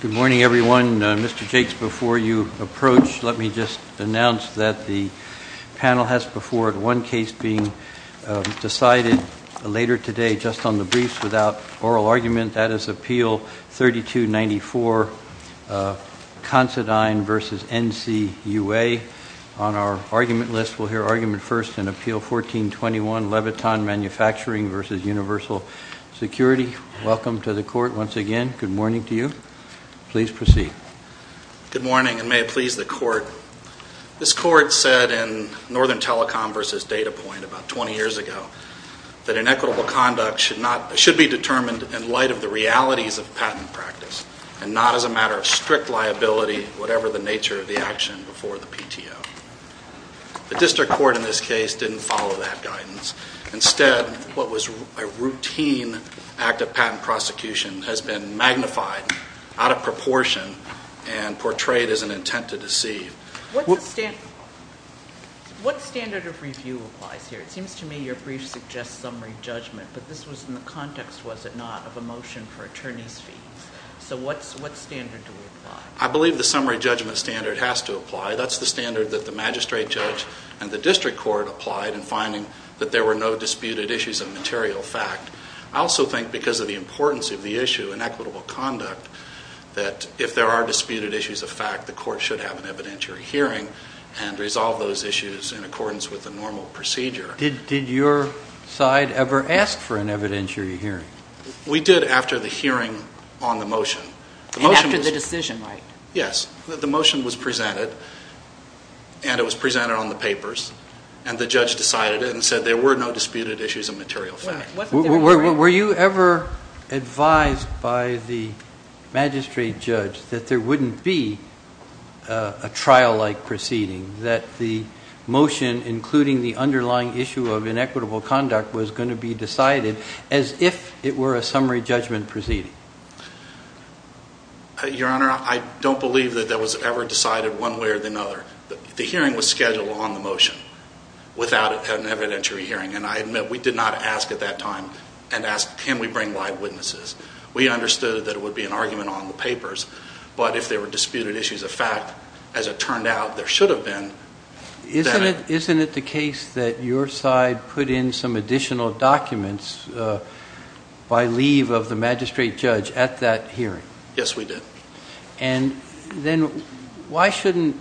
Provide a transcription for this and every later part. Good morning, everyone. Mr. Jakes, before you approach, let me just announce that the panel has before it one case being decided later today, just on the briefs, without oral argument. That is Appeal 3294, Considine v. NCUA. On our argument list, we'll hear argument first in Appeal 1421, Leviton MFG v. Universal Security. Welcome to the court once again. Good morning to you. Please proceed. Good morning, and may it please the court. This court said in Northern Telecom v. Data Point about 20 years ago that inequitable conduct should be determined in light of the realities of patent practice and not as a matter of strict liability, whatever the nature of the action before the PTO. The district court in this case didn't follow that guidance. Instead, what was a routine act of patent prosecution has been magnified out of proportion and portrayed as an intent to deceive. What standard of review applies here? It seems to me your brief suggests summary judgment, but this was in the context, was it not, of a motion for attorney's fees. So what standard do we apply? I believe the summary judgment standard has to apply. That's the standard that the magistrate judge and the district court applied in finding that there were no disputed issues of material fact. I also think because of the importance of the issue in equitable conduct that if there are disputed issues of fact, the court should have an evidentiary hearing and resolve those issues in accordance with the normal procedure. Did your side ever ask for an evidentiary hearing? We did after the hearing on the motion. And after the decision, right? Yes. The motion was presented, and it was presented on the papers, and the judge decided it and said there were no disputed issues of material fact. Were you ever advised by the magistrate judge that there wouldn't be a trial-like proceeding, that the motion, including the underlying issue of inequitable conduct, was going to be decided as if it were a summary judgment proceeding? Your Honor, I don't believe that that was ever decided one way or another. The hearing was scheduled on the motion without an evidentiary hearing, and I admit we did not ask at that time and ask, can we bring live witnesses? We understood that it would be an argument on the papers, but if there were disputed issues of fact, as it turned out, there should have been. Isn't it the case that your side put in some additional documents by leave of the magistrate judge at that hearing? Yes, we did. And then why shouldn't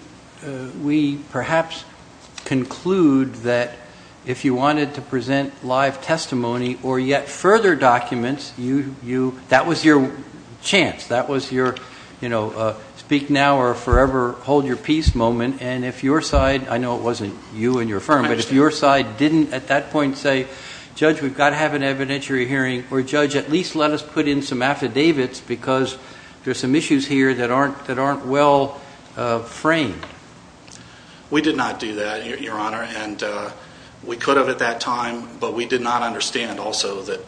we perhaps conclude that if you wanted to present live testimony or yet further documents, that was your chance, that was your speak now or forever hold your peace moment, and if your side, I know it wasn't you and your firm, but if your side didn't at that point say, judge, we've got to have an evidentiary hearing, or judge, at least let us put in some affidavits because there's some issues here that aren't well framed. We did not do that, your Honor, and we could have at that time, but we did not understand also that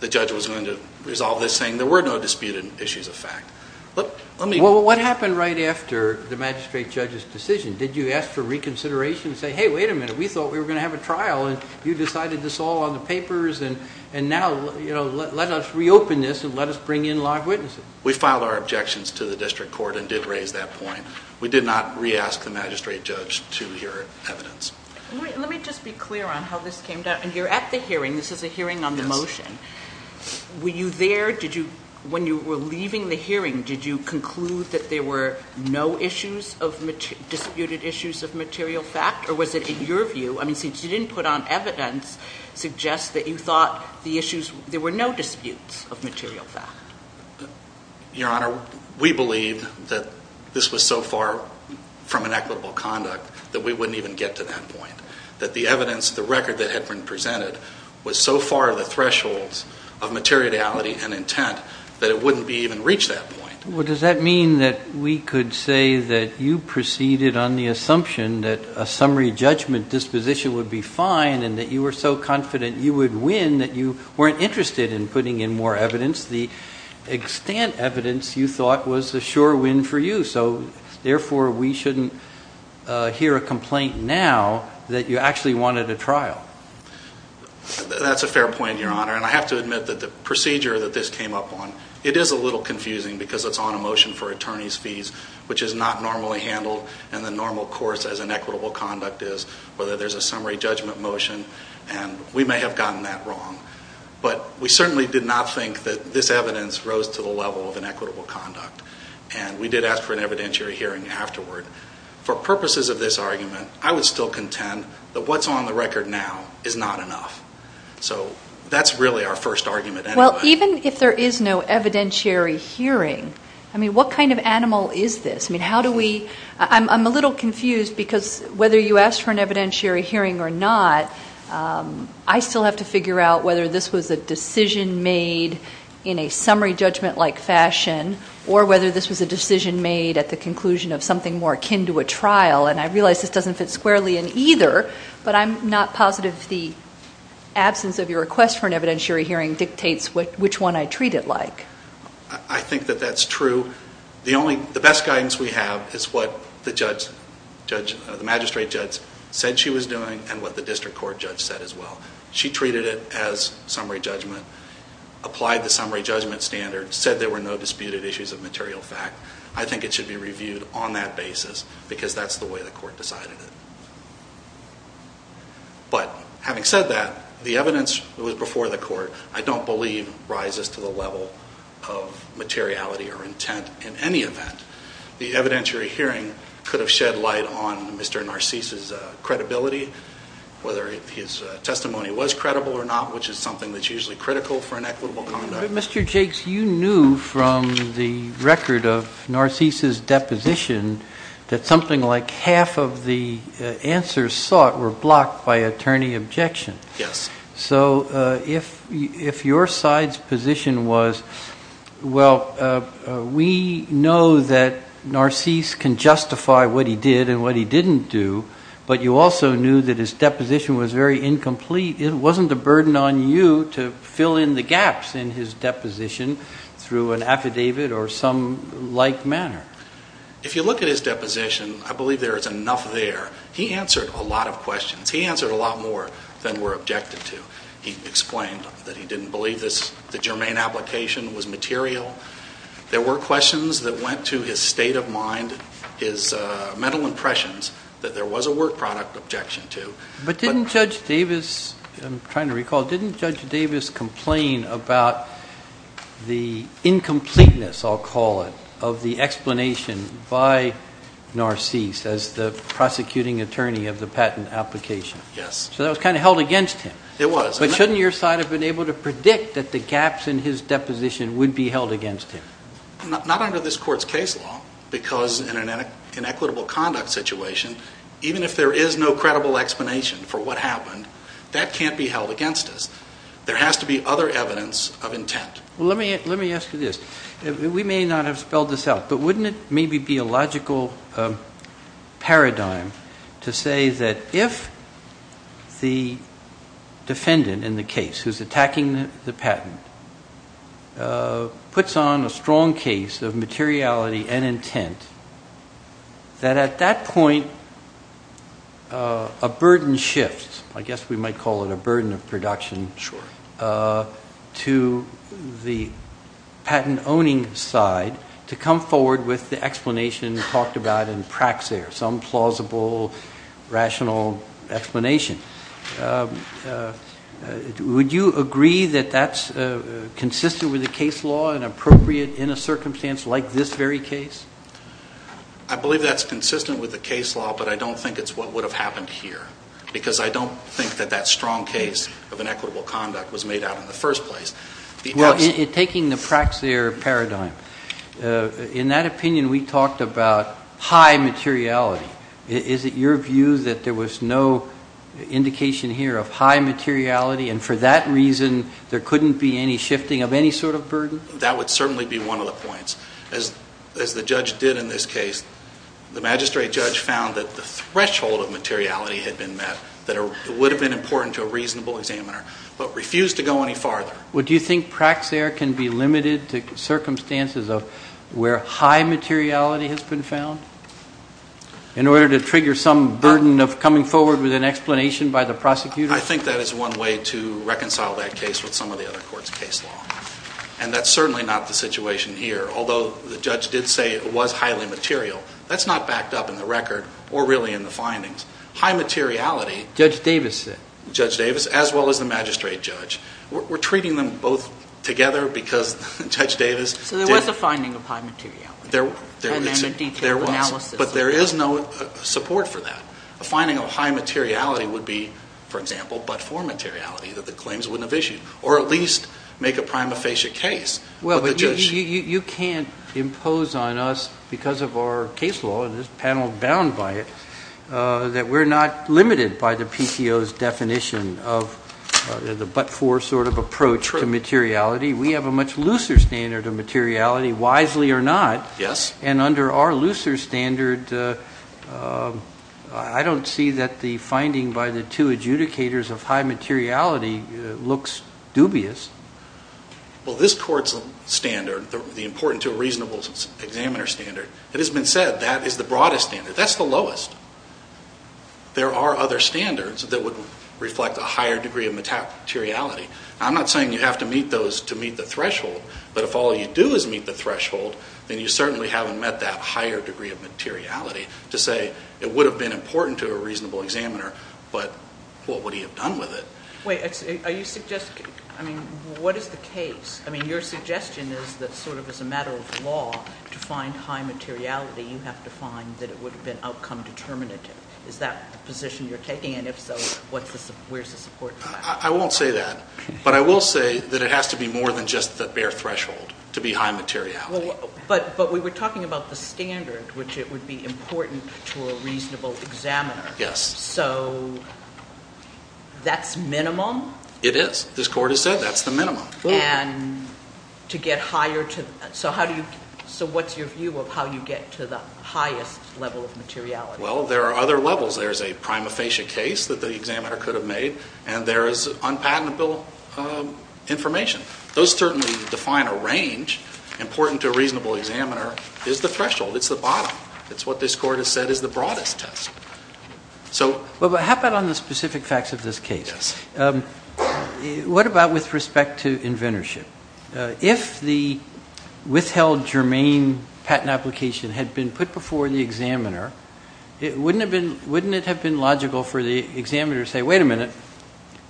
the judge was going to resolve this saying there were no disputed issues of fact. Well, what happened right after the magistrate judge's decision? Did you ask for reconsideration and say, hey, wait a minute, we thought we were going to have a trial, and you decided this all on the papers, and now, you know, let us reopen this and let us bring in live witnesses? We filed our objections to the district court and did raise that point. We did not re-ask the magistrate judge to hear evidence. Let me just be clear on how this came down. You're at the hearing. This is a hearing on the motion. Were you there? When you were leaving the hearing, did you conclude that there were no issues of, disputed issues of material fact, or was it in your view, I mean, since you didn't put on evidence, suggest that you thought the issues, there were no disputes of material fact? Your Honor, we believed that this was so far from an equitable conduct that we wouldn't even get to that point, that the evidence, the record that had been presented was so far the thresholds of materiality and intent that it wouldn't be even reach that point. Well, does that mean that we could say that you proceeded on the assumption that a summary judgment disposition would be fine and that you were so confident you would win that you weren't interested in putting in more evidence, the extent evidence you thought was a sure win for you, so therefore we shouldn't hear a complaint now that you actually wanted a trial? That's a fair point, Your Honor, and I have to admit that the procedure that this came up on, it is a little confusing because it's on a motion for attorney's fees, which is not normally handled in the normal course as an equitable conduct is, whether there's a summary judgment motion, and we may have gotten that wrong, but we certainly did not think that this evidence rose to the level of an equitable conduct, and we did ask for an evidentiary hearing afterward. For purposes of this argument, I would still contend that what's on the record now is not enough, so that's really our first argument anyway. Well, even if there is no evidentiary hearing, I mean, what kind of animal is this? I'm a little confused because whether you asked for an evidentiary hearing or not, I still have to figure out whether this was a decision made in a summary judgment-like fashion or whether this was a decision made at the conclusion of something more akin to a trial, and I realize this doesn't fit squarely in either, but I'm not positive the absence of your request for an evidentiary hearing dictates which one I treat it like. I think that that's true. The best guidance we have is what the magistrate judge said she was doing and what the district court judge said as well. She treated it as summary judgment, applied the summary judgment standard, said there were no disputed issues of material fact. I think it should be reviewed on that basis because that's the way the court decided it. But having said that, the evidence that was before the court I don't believe rises to the level of materiality or intent in any event. The evidentiary hearing could have shed light on Mr. Narcisse's credibility, whether his testimony was credible or not, which is something that's usually critical for an equitable conduct. Mr. Jakes, you knew from the record of Narcisse's deposition that something like half of the answers sought were blocked by attorney objection. Yes. So if your side's position was, well, we know that Narcisse can justify what he did and what he didn't do, but you also knew that his deposition was very incomplete. It wasn't a burden on you to fill in the gaps in his deposition through an affidavit or some like manner. If you look at his deposition, I believe there is enough there. He answered a lot of questions. He answered a lot more than were objected to. He explained that he didn't believe the germane application was material. There were questions that went to his state of mind, his mental impressions, that there was a work product objection to. But didn't Judge Davis, I'm trying to recall, didn't Judge Davis complain about the incompleteness, I'll call it, of the explanation by Narcisse as the prosecuting attorney of the patent application? Yes. So that was kind of held against him. It was. But shouldn't your side have been able to predict that the gaps in his deposition would be held against him? Not under this Court's case law because in an inequitable conduct situation, even if there is no credible explanation for what happened, that can't be held against us. There has to be other evidence of intent. Well, let me ask you this. We may not have spelled this out, but wouldn't it maybe be a logical paradigm to say that if the defendant in the case who's attacking the patent puts on a strong case of materiality and intent, that at that point a burden shifts, I guess we might call it a burden of side to come forward with the explanation talked about in Praxair, some plausible, rational explanation. Would you agree that that's consistent with the case law and appropriate in a circumstance like this very case? I believe that's consistent with the case law, but I don't think it's what would have happened here because I don't think that that strong case of inequitable conduct was made out in the first place. Well, taking the Praxair paradigm, in that opinion we talked about high materiality. Is it your view that there was no indication here of high materiality and for that reason there couldn't be any shifting of any sort of burden? That would certainly be one of the points. As the judge did in this case, the magistrate judge found that the threshold of materiality had been met, that it would have been important to a reasonable examiner, but refused to go any farther. Would you think Praxair can be limited to circumstances of where high materiality has been found in order to trigger some burden of coming forward with an explanation by the prosecutor? I think that is one way to reconcile that case with some of the other courts' case law. And that's certainly not the situation here, although the judge did say it was highly material. That's not backed up in the record or really in the findings. High materiality... Judge Davis said. Judge Davis, as well as the magistrate judge. We're treating them both together because Judge Davis... So there was a finding of high materiality. There was. And then a detailed analysis. But there is no support for that. A finding of high materiality would be, for example, but-for materiality, that the claims wouldn't have issued. Or at least make a prima facie case. Well, you can't impose on us, because of our case law and this panel bound by it, that we're not limited by the PTO's definition of the but-for sort of approach to materiality. We have a much looser standard of materiality, wisely or not. Yes. And under our looser standard, I don't see that the finding by the two adjudicators of high materiality looks dubious. Well, this court's standard, the important to a reasonable examiner standard, it has been said that is the broadest standard. That's the lowest. There are other standards that would reflect a higher degree of materiality. I'm not saying you have to meet those to meet the threshold. But if all you do is meet the threshold, then you certainly haven't met that higher degree of materiality to say it would have been important to a reasonable examiner, but what would he have done with it? Wait. Are you suggesting-I mean, what is the case? I mean, your suggestion is that sort of as a matter of law, to find high materiality, you have to find that it would have been outcome determinative. Is that the position you're taking? And if so, where's the support for that? I won't say that. But I will say that it has to be more than just the bare threshold to be high materiality. But we were talking about the standard, which it would be important to a reasonable examiner. Yes. So that's minimum? It is. This court has said that's the minimum. And to get higher to-so how do you-so what's your view of how you get to the highest level of materiality? Well, there are other levels. There's a prima facie case that the examiner could have made, and there is unpatentable information. Those certainly define a range. Important to a reasonable examiner is the threshold. It's the bottom. It's what this court has said is the broadest test. So- How about on the specific facts of this case? Yes. What about with respect to inventorship? If the withheld germane patent application had been put before the examiner, wouldn't it have been logical for the examiner to say, wait a minute,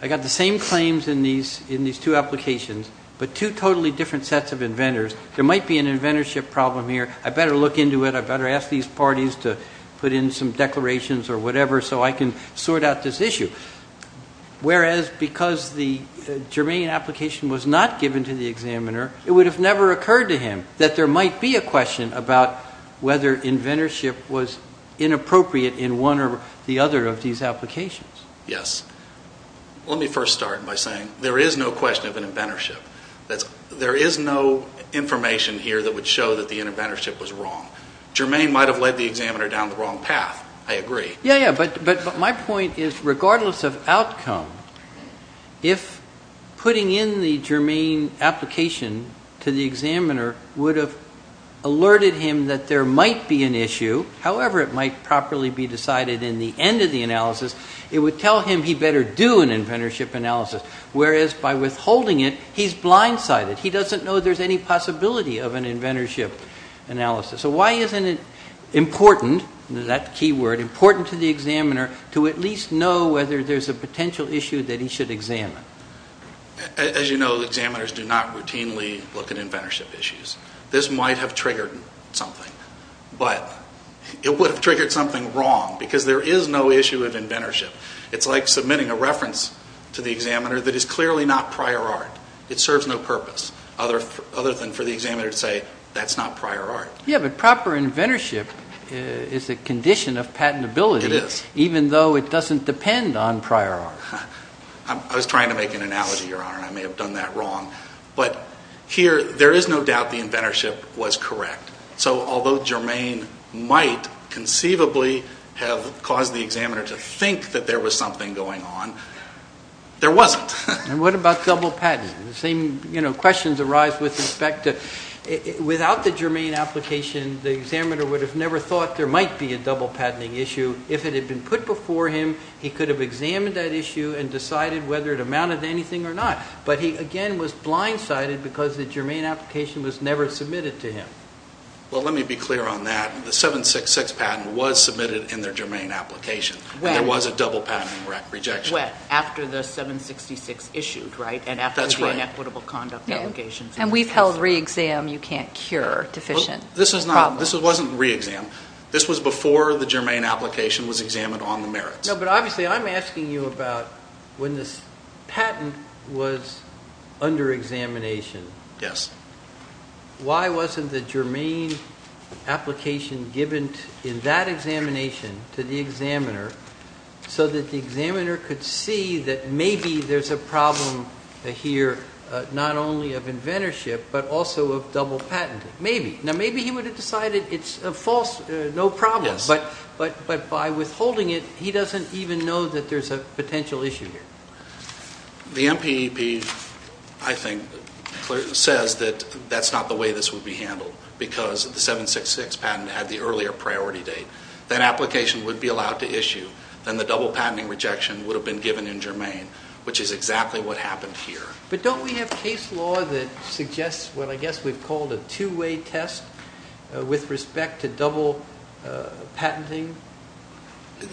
I got the same claims in these two applications, but two totally different sets of inventors. There might be an inventorship problem here. I better look into it. I better ask these parties to put in some declarations or whatever so I can sort out this issue. Whereas because the germane application was not given to the examiner, it would have never occurred to him that there might be a question about whether inventorship was inappropriate in one or the other of these applications. Yes. Let me first start by saying there is no question of an inventorship. There is no information here that would show that the inventorship was wrong. Germane might have led the examiner down the wrong path. I agree. Yes, but my point is regardless of outcome, if putting in the germane application to the examiner would have alerted him that there might be an issue, however it might properly be decided in the end of the analysis, it would tell him he better do an inventorship analysis. Whereas by withholding it, he's blindsided. He doesn't know there's any possibility of an inventorship analysis. So why isn't it important, that key word, important to the examiner to at least know whether there's a potential issue that he should examine? As you know, examiners do not routinely look at inventorship issues. This might have triggered something, but it would have triggered something wrong because there is no issue of inventorship. It's like submitting a reference to the examiner that is clearly not prior art. It serves no purpose other than for the examiner to say that's not prior art. Yes, but proper inventorship is a condition of patentability even though it doesn't depend on prior art. I was trying to make an analogy, Your Honor, and I may have done that wrong. But here there is no doubt the inventorship was correct. So although germane might conceivably have caused the examiner to think that there was something going on, there wasn't. And what about double patent? The same questions arise with respect to without the germane application, the examiner would have never thought there might be a double patenting issue. If it had been put before him, he could have examined that issue and decided whether it amounted to anything or not. But he, again, was blindsided because the germane application was never submitted to him. Well, let me be clear on that. The 766 patent was submitted in their germane application. There was a double patent rejection. It was wet after the 766 issued, right, and after the inequitable conduct allegations. And we've held re-exam, you can't cure deficient problems. This wasn't re-exam. This was before the germane application was examined on the merits. No, but obviously I'm asking you about when this patent was under examination. Yes. Why wasn't the germane application given in that examination to the examiner so that the examiner could see that maybe there's a problem here not only of inventorship but also of double patenting? Maybe. Now, maybe he would have decided it's a false, no problem. Yes. But by withholding it, he doesn't even know that there's a potential issue here. The MPEP, I think, says that that's not the way this would be handled because the 766 patent had the earlier priority date. That application would be allowed to issue. Then the double patenting rejection would have been given in germane, which is exactly what happened here. But don't we have case law that suggests what I guess we've called a two-way test with respect to double patenting?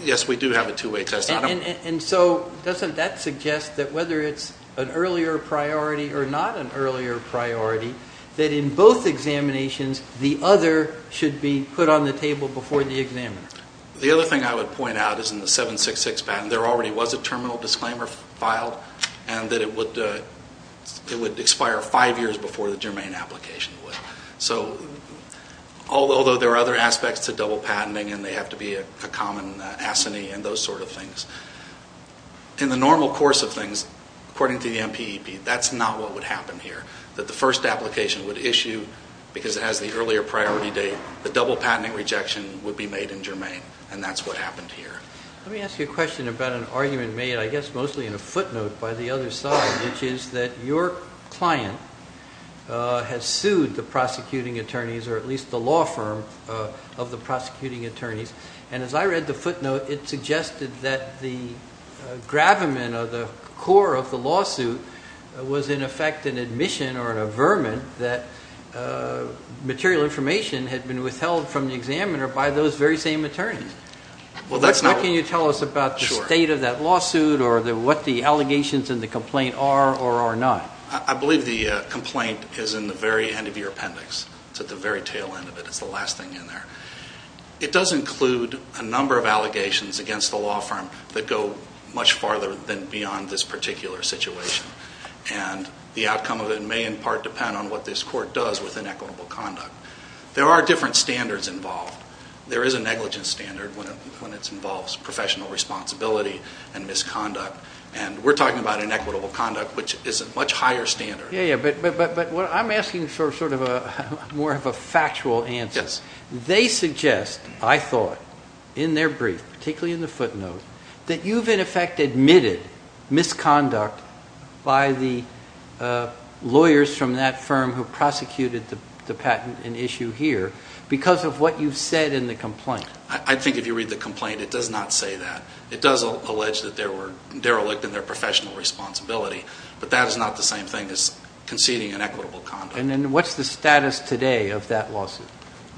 Yes, we do have a two-way test. And so doesn't that suggest that whether it's an earlier priority or not an earlier priority, that in both examinations the other should be put on the table before the examiner? The other thing I would point out is in the 766 patent there already was a terminal disclaimer filed and that it would expire five years before the germane application would. So although there are other aspects to double patenting and they have to be a common assignee and those sort of things, in the normal course of things, according to the MPEP, that's not what would happen here, that the first application would issue because it has the earlier priority date. The double patenting rejection would be made in germane, and that's what happened here. Let me ask you a question about an argument made I guess mostly in a footnote by the other side, which is that your client has sued the prosecuting attorneys or at least the law firm of the prosecuting attorneys. And as I read the footnote, it suggested that the gravamen or the core of the lawsuit was in effect an admission or an averment that material information had been withheld from the examiner by those very same attorneys. What can you tell us about the state of that lawsuit or what the allegations in the complaint are or are not? I believe the complaint is in the very end of your appendix. It's at the very tail end of it. It's the last thing in there. It does include a number of allegations against the law firm that go much farther than beyond this particular situation. And the outcome of it may in part depend on what this court does with inequitable conduct. There are different standards involved. There is a negligence standard when it involves professional responsibility and misconduct, and we're talking about inequitable conduct, which is a much higher standard. But I'm asking sort of more of a factual answer. They suggest, I thought, in their brief, particularly in the footnote, that you've in effect admitted misconduct by the lawyers from that firm who prosecuted the patent in issue here because of what you've said in the complaint. I think if you read the complaint, it does not say that. It does allege that they were derelict in their professional responsibility, but that is not the same thing as conceding inequitable conduct. And then what's the status today of that lawsuit?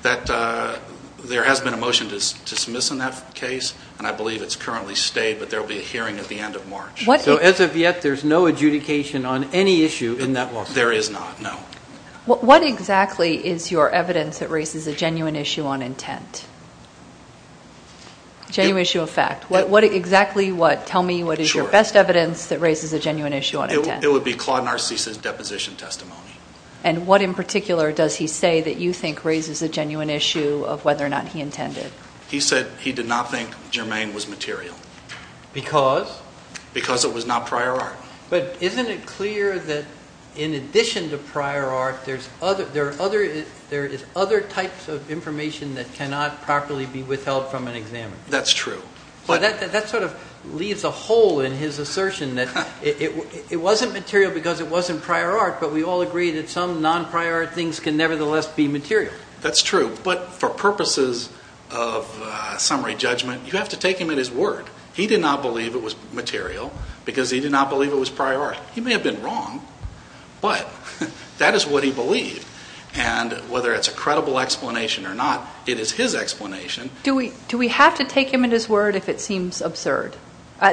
There has been a motion to dismiss in that case, and I believe it's currently stayed, but there will be a hearing at the end of March. So as of yet, there's no adjudication on any issue in that lawsuit? There is not, no. What exactly is your evidence that raises a genuine issue on intent? Genuine issue of fact. What exactly what? Tell me what is your best evidence that raises a genuine issue on intent. It would be Claude Narcisse's deposition testimony. And what in particular does he say that you think raises a genuine issue of whether or not he intended? He said he did not think Germain was material. Because? Because it was not prior art. But isn't it clear that in addition to prior art, there is other types of information that cannot properly be withheld from an examiner? That's true. That sort of leaves a hole in his assertion that it wasn't material because it wasn't prior art, but we all agree that some non-prior art things can nevertheless be material. That's true. But for purposes of summary judgment, you have to take him at his word. He did not believe it was material because he did not believe it was prior art. He may have been wrong, but that is what he believed. And whether it's a credible explanation or not, it is his explanation. Do we have to take him at his word if it seems absurd?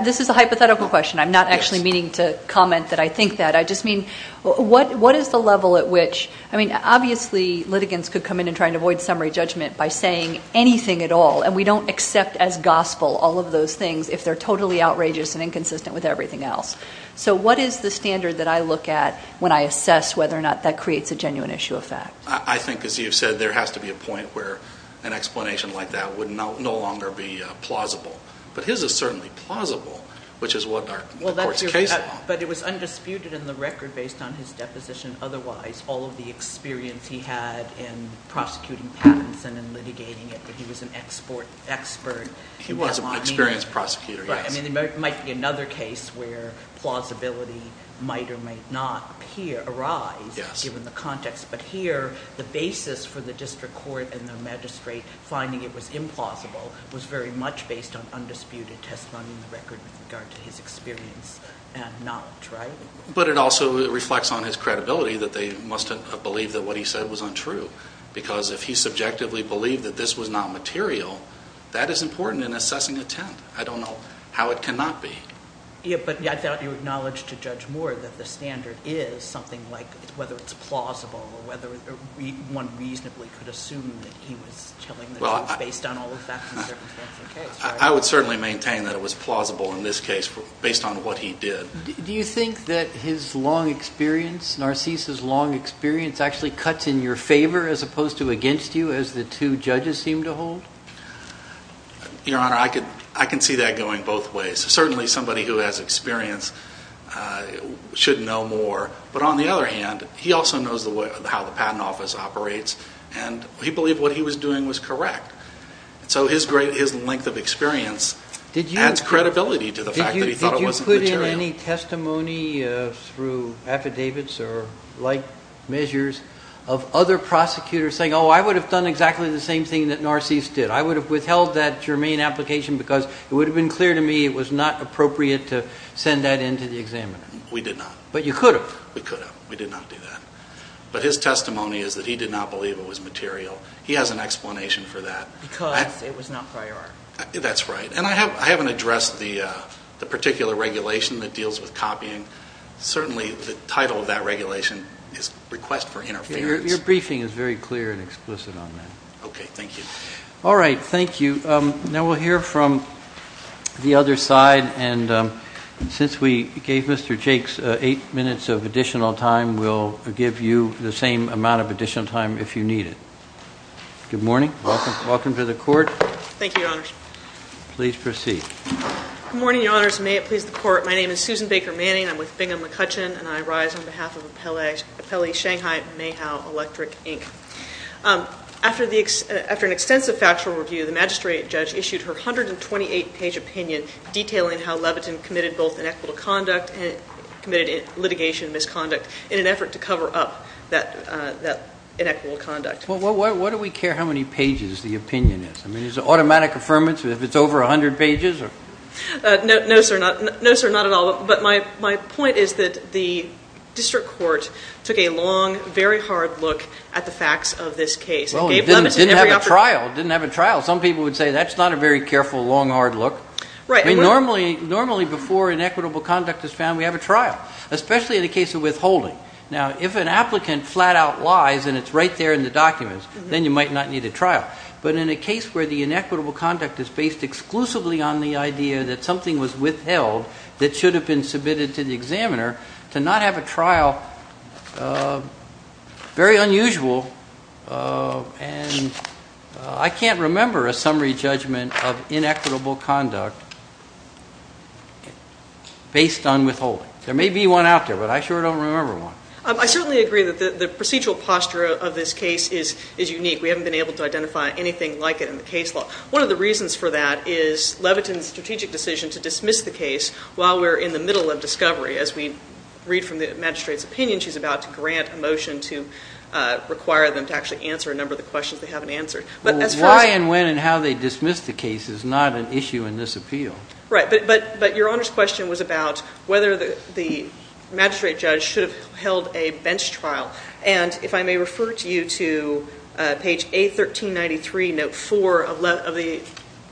This is a hypothetical question. I'm not actually meaning to comment that I think that. I just mean what is the level at which, I mean, obviously litigants could come in and try to avoid summary judgment by saying anything at all. And we don't accept as gospel all of those things if they're totally outrageous and inconsistent with everything else. So what is the standard that I look at when I assess whether or not that creates a genuine issue of fact? I think, as you've said, there has to be a point where an explanation like that would no longer be plausible. But his is certainly plausible, which is what our court's case is about. But it was undisputed in the record based on his deposition. Otherwise, all of the experience he had in prosecuting Pattinson and litigating it, that he was an expert. He was an experienced prosecutor, yes. I mean, there might be another case where plausibility might or might not arise given the context. But here, the basis for the district court and the magistrate finding it was implausible was very much based on undisputed testimony in the record with regard to his experience and not, right? But it also reflects on his credibility that they must have believed that what he said was untrue. Because if he subjectively believed that this was not material, that is important in assessing intent. I don't know how it cannot be. Yeah, but I thought you acknowledged to Judge Moore that the standard is something like whether it's plausible or whether one reasonably could assume that he was telling the truth based on all of that. I would certainly maintain that it was plausible in this case based on what he did. Do you think that his long experience, Narcisse's long experience, actually cuts in your favor as opposed to against you as the two judges seem to hold? Your Honor, I can see that going both ways. Certainly somebody who has experience should know more. But on the other hand, he also knows how the Patent Office operates, and he believed what he was doing was correct. So his length of experience adds credibility to the fact that he thought it wasn't material. Did you put in any testimony through affidavits or like measures of other prosecutors saying, oh, I would have done exactly the same thing that Narcisse did? I would have withheld that germane application because it would have been clear to me it was not appropriate to send that in to the examiner. We did not. But you could have. We could have. We did not do that. But his testimony is that he did not believe it was material. He has an explanation for that. Because it was not prior. That's right. And I haven't addressed the particular regulation that deals with copying. Certainly the title of that regulation is Request for Interference. Your briefing is very clear and explicit on that. Okay. Thank you. All right. Thank you. Now we'll hear from the other side. And since we gave Mr. Jakes eight minutes of additional time, we'll give you the same amount of additional time if you need it. Good morning. Welcome to the court. Thank you, Your Honors. Please proceed. Good morning, Your Honors. May it please the Court. My name is Susan Baker Manning. I'm with Bingham McCutcheon, and I rise on behalf of Appellee Shanghai Mayhow Electric, Inc. After an extensive factual review, the magistrate judge issued her 128-page opinion detailing how Levitin committed both inequitable conduct and committed litigation misconduct in an effort to cover up that inequitable conduct. Well, why do we care how many pages the opinion is? I mean, is it automatic affirmation if it's over 100 pages? No, sir, not at all. But my point is that the district court took a long, very hard look at the facts of this case. Well, it didn't have a trial. It didn't have a trial. Some people would say that's not a very careful, long, hard look. Right. I mean, normally before inequitable conduct is found, we have a trial, especially in the case of withholding. Now, if an applicant flat-out lies and it's right there in the documents, then you might not need a trial. But in a case where the inequitable conduct is based exclusively on the idea that something was withheld that should have been submitted to the examiner, to not have a trial, very unusual, and I can't remember a summary judgment of inequitable conduct based on withholding. There may be one out there, but I sure don't remember one. I certainly agree that the procedural posture of this case is unique. We haven't been able to identify anything like it in the case law. One of the reasons for that is Levitin's strategic decision to dismiss the case while we're in the middle of discovery. As we read from the magistrate's opinion, she's about to grant a motion to require them to actually answer a number of the questions they haven't answered. Why and when and how they dismiss the case is not an issue in this appeal. Right. But Your Honor's question was about whether the magistrate judge should have held a bench trial. And if I may refer to you to page A1393, note 4 of the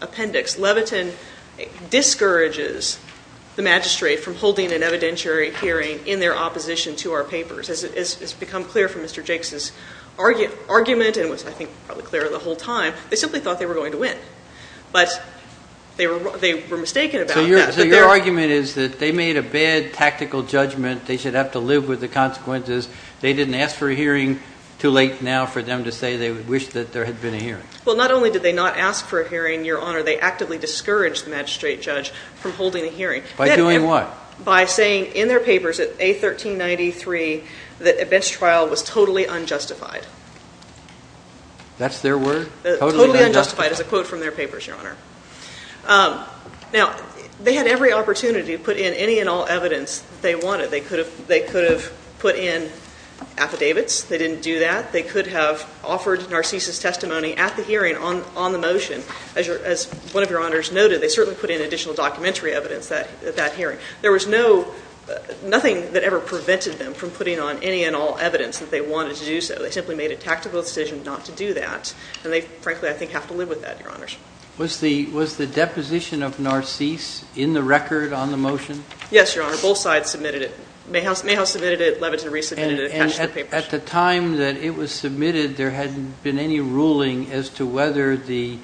appendix, Levitin discourages the magistrate from holding an evidentiary hearing in their opposition to our papers. As has become clear from Mr. Jakes' argument and was, I think, probably clear the whole time, they simply thought they were going to win. But they were mistaken about that. So your argument is that they made a bad tactical judgment, they should have to live with the consequences, they didn't ask for a hearing too late now for them to say they wished that there had been a hearing. Well, not only did they not ask for a hearing, Your Honor, they actively discouraged the magistrate judge from holding a hearing. By doing what? By saying in their papers at A1393 that a bench trial was totally unjustified. That's their word? Totally unjustified is a quote from their papers, Your Honor. Now, they had every opportunity to put in any and all evidence they wanted. They could have put in affidavits. They didn't do that. They could have offered Narcisse's testimony at the hearing on the motion. As one of Your Honors noted, they certainly put in additional documentary evidence at that hearing. There was nothing that ever prevented them from putting on any and all evidence that they wanted to do so. They simply made a tactical decision not to do that, and they, frankly, I think, have to live with that, Your Honors. Was the deposition of Narcisse in the record on the motion? Yes, Your Honor. Both sides submitted it. Mayhouse submitted it. Levitin resubmitted it. At the time that it was submitted, there hadn't been any ruling as to whether the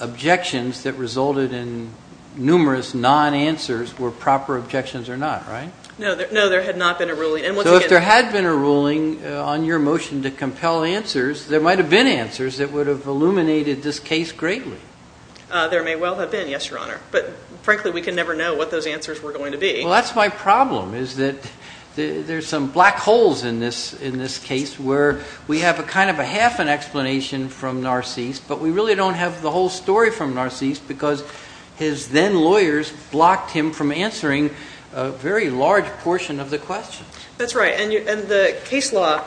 objections that resulted in numerous non-answers were proper objections or not, right? No, there had not been a ruling. So if there had been a ruling on your motion to compel answers, there might have been answers that would have illuminated this case greatly. There may well have been, yes, Your Honor. But, frankly, we can never know what those answers were going to be. Well, that's my problem is that there's some black holes in this case where we have a kind of a half an explanation from Narcisse, but we really don't have the whole story from Narcisse because his then lawyers blocked him from answering a very large portion of the question. That's right. And the case law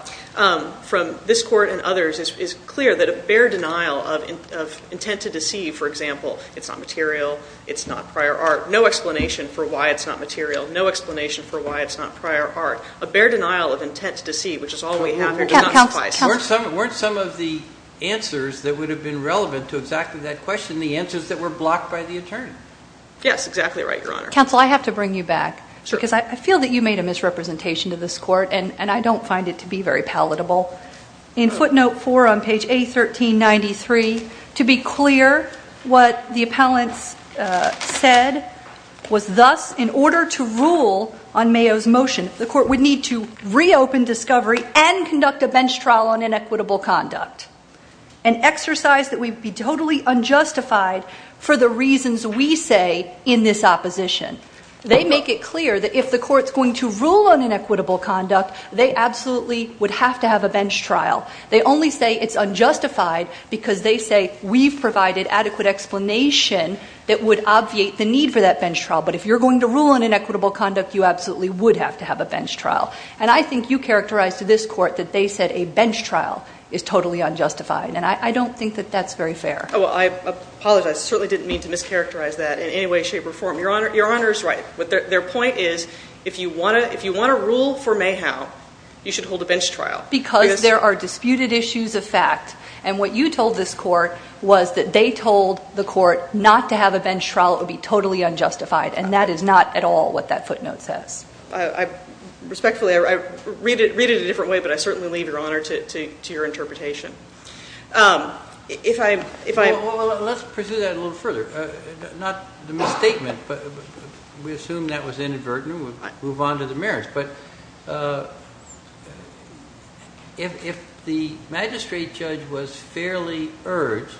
from this court and others is clear that a bare denial of intent to deceive, for example, it's not material, it's not prior art, no explanation for why it's not material, no explanation for why it's not prior art, a bare denial of intent to deceive, which is all we have here, does not suffice. Weren't some of the answers that would have been relevant to exactly that question the answers that were blocked by the attorney? Yes, exactly right, Your Honor. Counsel, I have to bring you back because I feel that you made a misrepresentation to this court, and I don't find it to be very palatable. In footnote four on page A1393, to be clear, what the appellants said was thus, in order to rule on Mayo's motion, the court would need to reopen discovery and conduct a bench trial on inequitable conduct, an exercise that would be totally unjustified for the reasons we say in this opposition. They make it clear that if the court's going to rule on inequitable conduct, they absolutely would have to have a bench trial. They only say it's unjustified because they say we've provided adequate explanation that would obviate the need for that bench trial, but if you're going to rule on inequitable conduct, you absolutely would have to have a bench trial. And I think you characterized to this court that they said a bench trial is totally unjustified, and I don't think that that's very fair. Well, I apologize. I certainly didn't mean to mischaracterize that in any way, shape, or form. Your Honor is right. Their point is if you want to rule for Mayhow, you should hold a bench trial. Because there are disputed issues of fact, and what you told this court was that they told the court not to have a bench trial. It would be totally unjustified, and that is not at all what that footnote says. Respectfully, I read it a different way, but I certainly leave your honor to your interpretation. Well, let's pursue that a little further. Not the misstatement, but we assume that was inadvertent and we'll move on to the merits. But if the magistrate judge was fairly urged,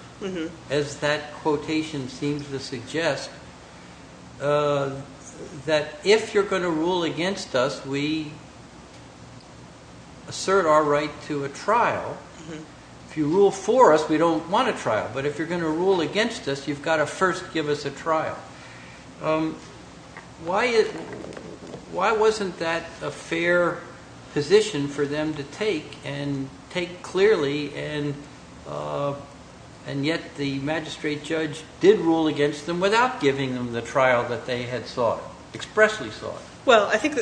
as that quotation seems to suggest, that if you're going to rule against us, we assert our right to a trial. If you rule for us, we don't want a trial. But if you're going to rule against us, you've got to first give us a trial. Why wasn't that a fair position for them to take and take clearly, and yet the magistrate judge did rule against them without giving them the trial that they had thought, expressly thought? Well, I think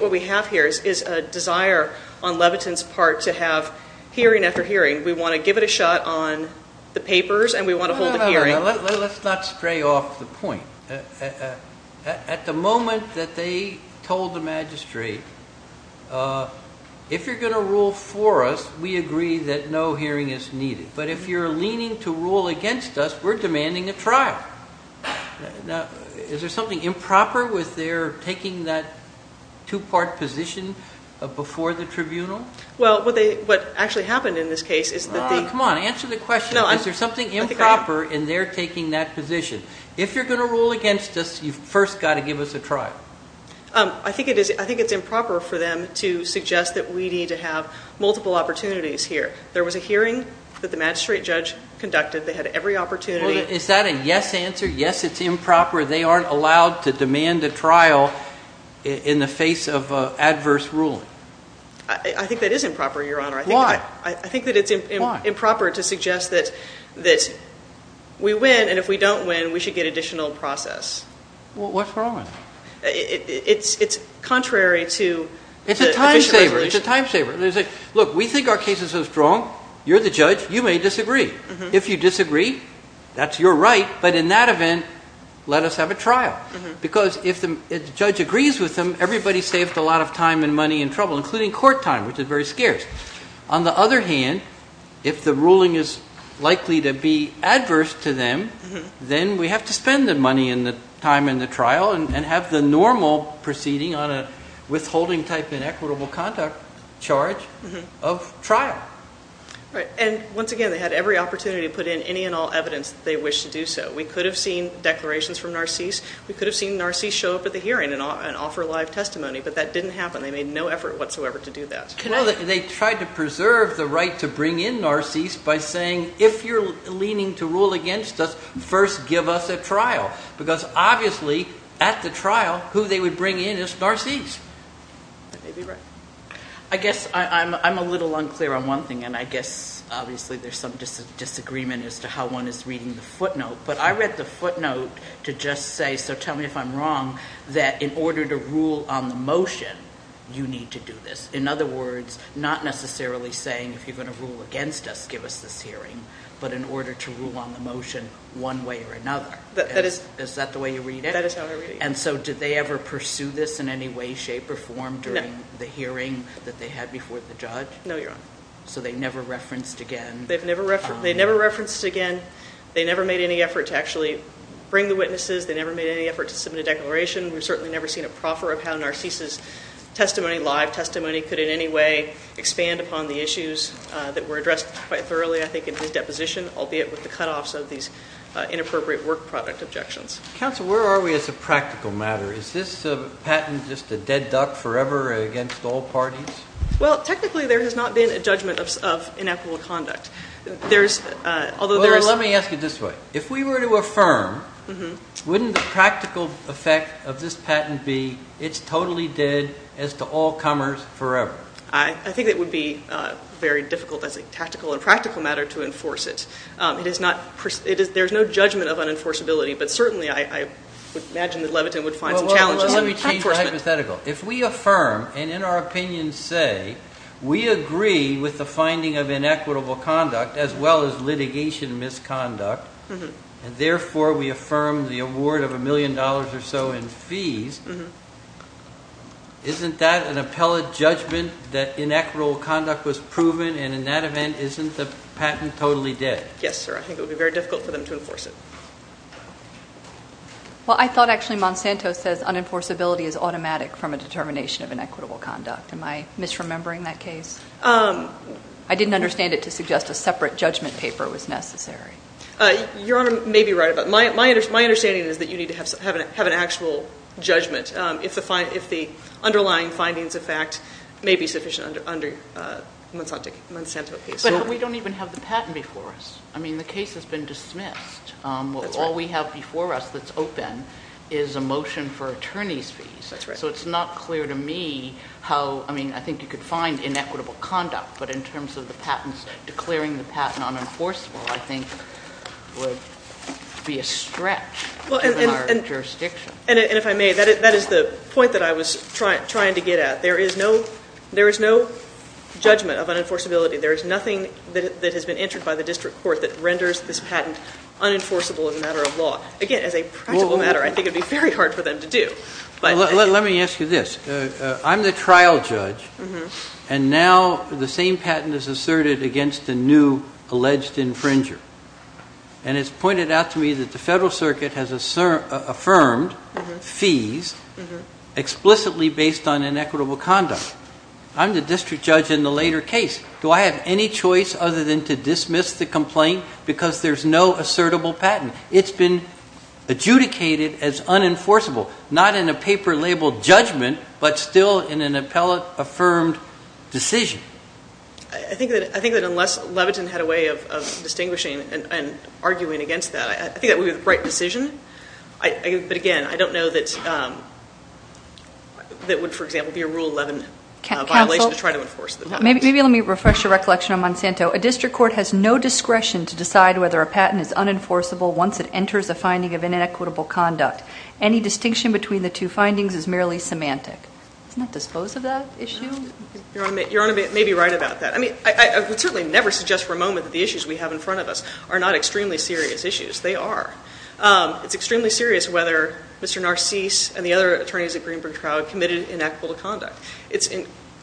what we have here is a desire on Levitin's part to have hearing after hearing. We want to give it a shot on the papers and we want to hold a hearing. Let's not stray off the point. At the moment that they told the magistrate, if you're going to rule for us, we agree that no hearing is needed. But if you're leaning to rule against us, we're demanding a trial. Now, is there something improper with their taking that two-part position before the tribunal? Well, what actually happened in this case is that the... Come on, answer the question. Is there something improper in their taking that position? If you're going to rule against us, you've first got to give us a trial. I think it's improper for them to suggest that we need to have multiple opportunities here. There was a hearing that the magistrate judge conducted. They had every opportunity. Is that a yes answer? Yes, it's improper. They aren't allowed to demand a trial in the face of adverse ruling. I think that is improper, Your Honor. Why? I think that it's improper to suggest that we win, and if we don't win, we should get additional process. Well, what's wrong with it? It's contrary to the official resolution. It's a time saver. It's a time saver. Look, we think our case is so strong. You're the judge. You may disagree. If you disagree, that's your right. But in that event, let us have a trial because if the judge agrees with them, everybody saved a lot of time and money and trouble, including court time, which is very scarce. On the other hand, if the ruling is likely to be adverse to them, then we have to spend the money and the time in the trial and have the normal proceeding on a withholding type inequitable conduct charge of trial. Right. And once again, they had every opportunity to put in any and all evidence that they wished to do so. We could have seen declarations from Narcisse. We could have seen Narcisse show up at the hearing and offer live testimony, but that didn't happen. They made no effort whatsoever to do that. They tried to preserve the right to bring in Narcisse by saying, if you're leaning to rule against us, first give us a trial, because obviously at the trial who they would bring in is Narcisse. I guess I'm a little unclear on one thing, and I guess obviously there's some disagreement as to how one is reading the footnote, but I read the footnote to just say, so tell me if I'm wrong, that in order to rule on the motion, you need to do this. In other words, not necessarily saying if you're going to rule against us, give us this hearing, but in order to rule on the motion one way or another. Is that the way you read it? That is how I read it. And so did they ever pursue this in any way, shape, or form during the hearing that they had before the judge? No, Your Honor. So they never referenced again? They never referenced again. They never made any effort to actually bring the witnesses. They never made any effort to submit a declaration. We've certainly never seen a proffer of how Narcisse's testimony, live testimony, could in any way expand upon the issues that were addressed quite thoroughly, I think, in his deposition, albeit with the cutoffs of these inappropriate work product objections. Counsel, where are we as a practical matter? Is this patent just a dead duck forever against all parties? Well, technically there has not been a judgment of inappropriate conduct. Well, let me ask it this way. If we were to affirm, wouldn't the practical effect of this patent be it's totally dead as to all comers forever? I think it would be very difficult as a tactical and practical matter to enforce it. There's no judgment of unenforceability, but certainly I would imagine that Levitin would find some challenges. Well, let me change the hypothetical. If we affirm, and in our opinion say, we agree with the finding of inequitable conduct as well as litigation misconduct, and therefore we affirm the award of a million dollars or so in fees, isn't that an appellate judgment that inequitable conduct was proven, and in that event, isn't the patent totally dead? Yes, sir. I think it would be very difficult for them to enforce it. Well, I thought actually Monsanto says unenforceability is automatic from a determination of inequitable conduct. Am I misremembering that case? I didn't understand it to suggest a separate judgment paper was necessary. Your Honor may be right about that. My understanding is that you need to have an actual judgment if the underlying findings of fact may be sufficient under Monsanto case. But we don't even have the patent before us. I mean, the case has been dismissed. That's right. All we have before us that's open is a motion for attorney's fees. That's right. So it's not clear to me how, I mean, I think you could find inequitable conduct, but in terms of the patents, declaring the patent unenforceable I think would be a stretch in our jurisdiction. And if I may, that is the point that I was trying to get at. There is no judgment of unenforceability. There is nothing that has been entered by the district court that renders this patent unenforceable as a matter of law. Again, as a practical matter, I think it would be very hard for them to do. Let me ask you this. I'm the trial judge, and now the same patent is asserted against a new alleged infringer. And it's pointed out to me that the Federal Circuit has affirmed fees explicitly based on inequitable conduct. I'm the district judge in the later case. Do I have any choice other than to dismiss the complaint because there's no assertable patent? It's been adjudicated as unenforceable, not in a paper-labeled judgment, but still in an appellate-affirmed decision. I think that unless Levitin had a way of distinguishing and arguing against that, I think that would be the right decision. But again, I don't know that it would, for example, be a Rule 11 violation to try to enforce the patent. Maybe let me refresh your recollection on Monsanto. A district court has no discretion to decide whether a patent is unenforceable once it enters a finding of inequitable conduct. Any distinction between the two findings is merely semantic. Doesn't that dispose of that issue? Your Honor may be right about that. I would certainly never suggest for a moment that the issues we have in front of us are not extremely serious issues. They are. It's extremely serious whether Mr. Narcisse and the other attorneys at Greenberg Trial committed inequitable conduct. It's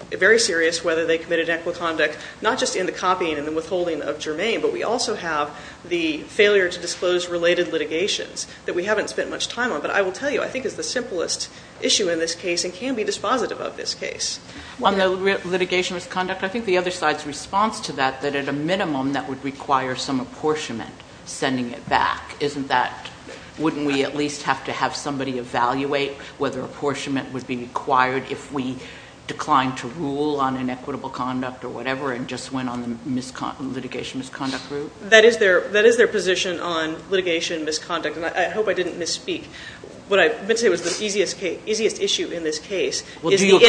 very serious whether they committed inequitable conduct not just in the copying and the withholding of Germain, but we also have the failure to disclose related litigations that we haven't spent much time on. But I will tell you, I think it's the simplest issue in this case and can be dispositive of this case. On the litigation misconduct, I think the other side's response to that, that at a minimum that would require some apportionment sending it back. Wouldn't we at least have to have somebody evaluate whether apportionment would be required if we declined to rule on inequitable conduct or whatever and just went on the litigation misconduct route? That is their position on litigation misconduct, and I hope I didn't misspeak. What I meant to say was the easiest issue in this case is the inequitable-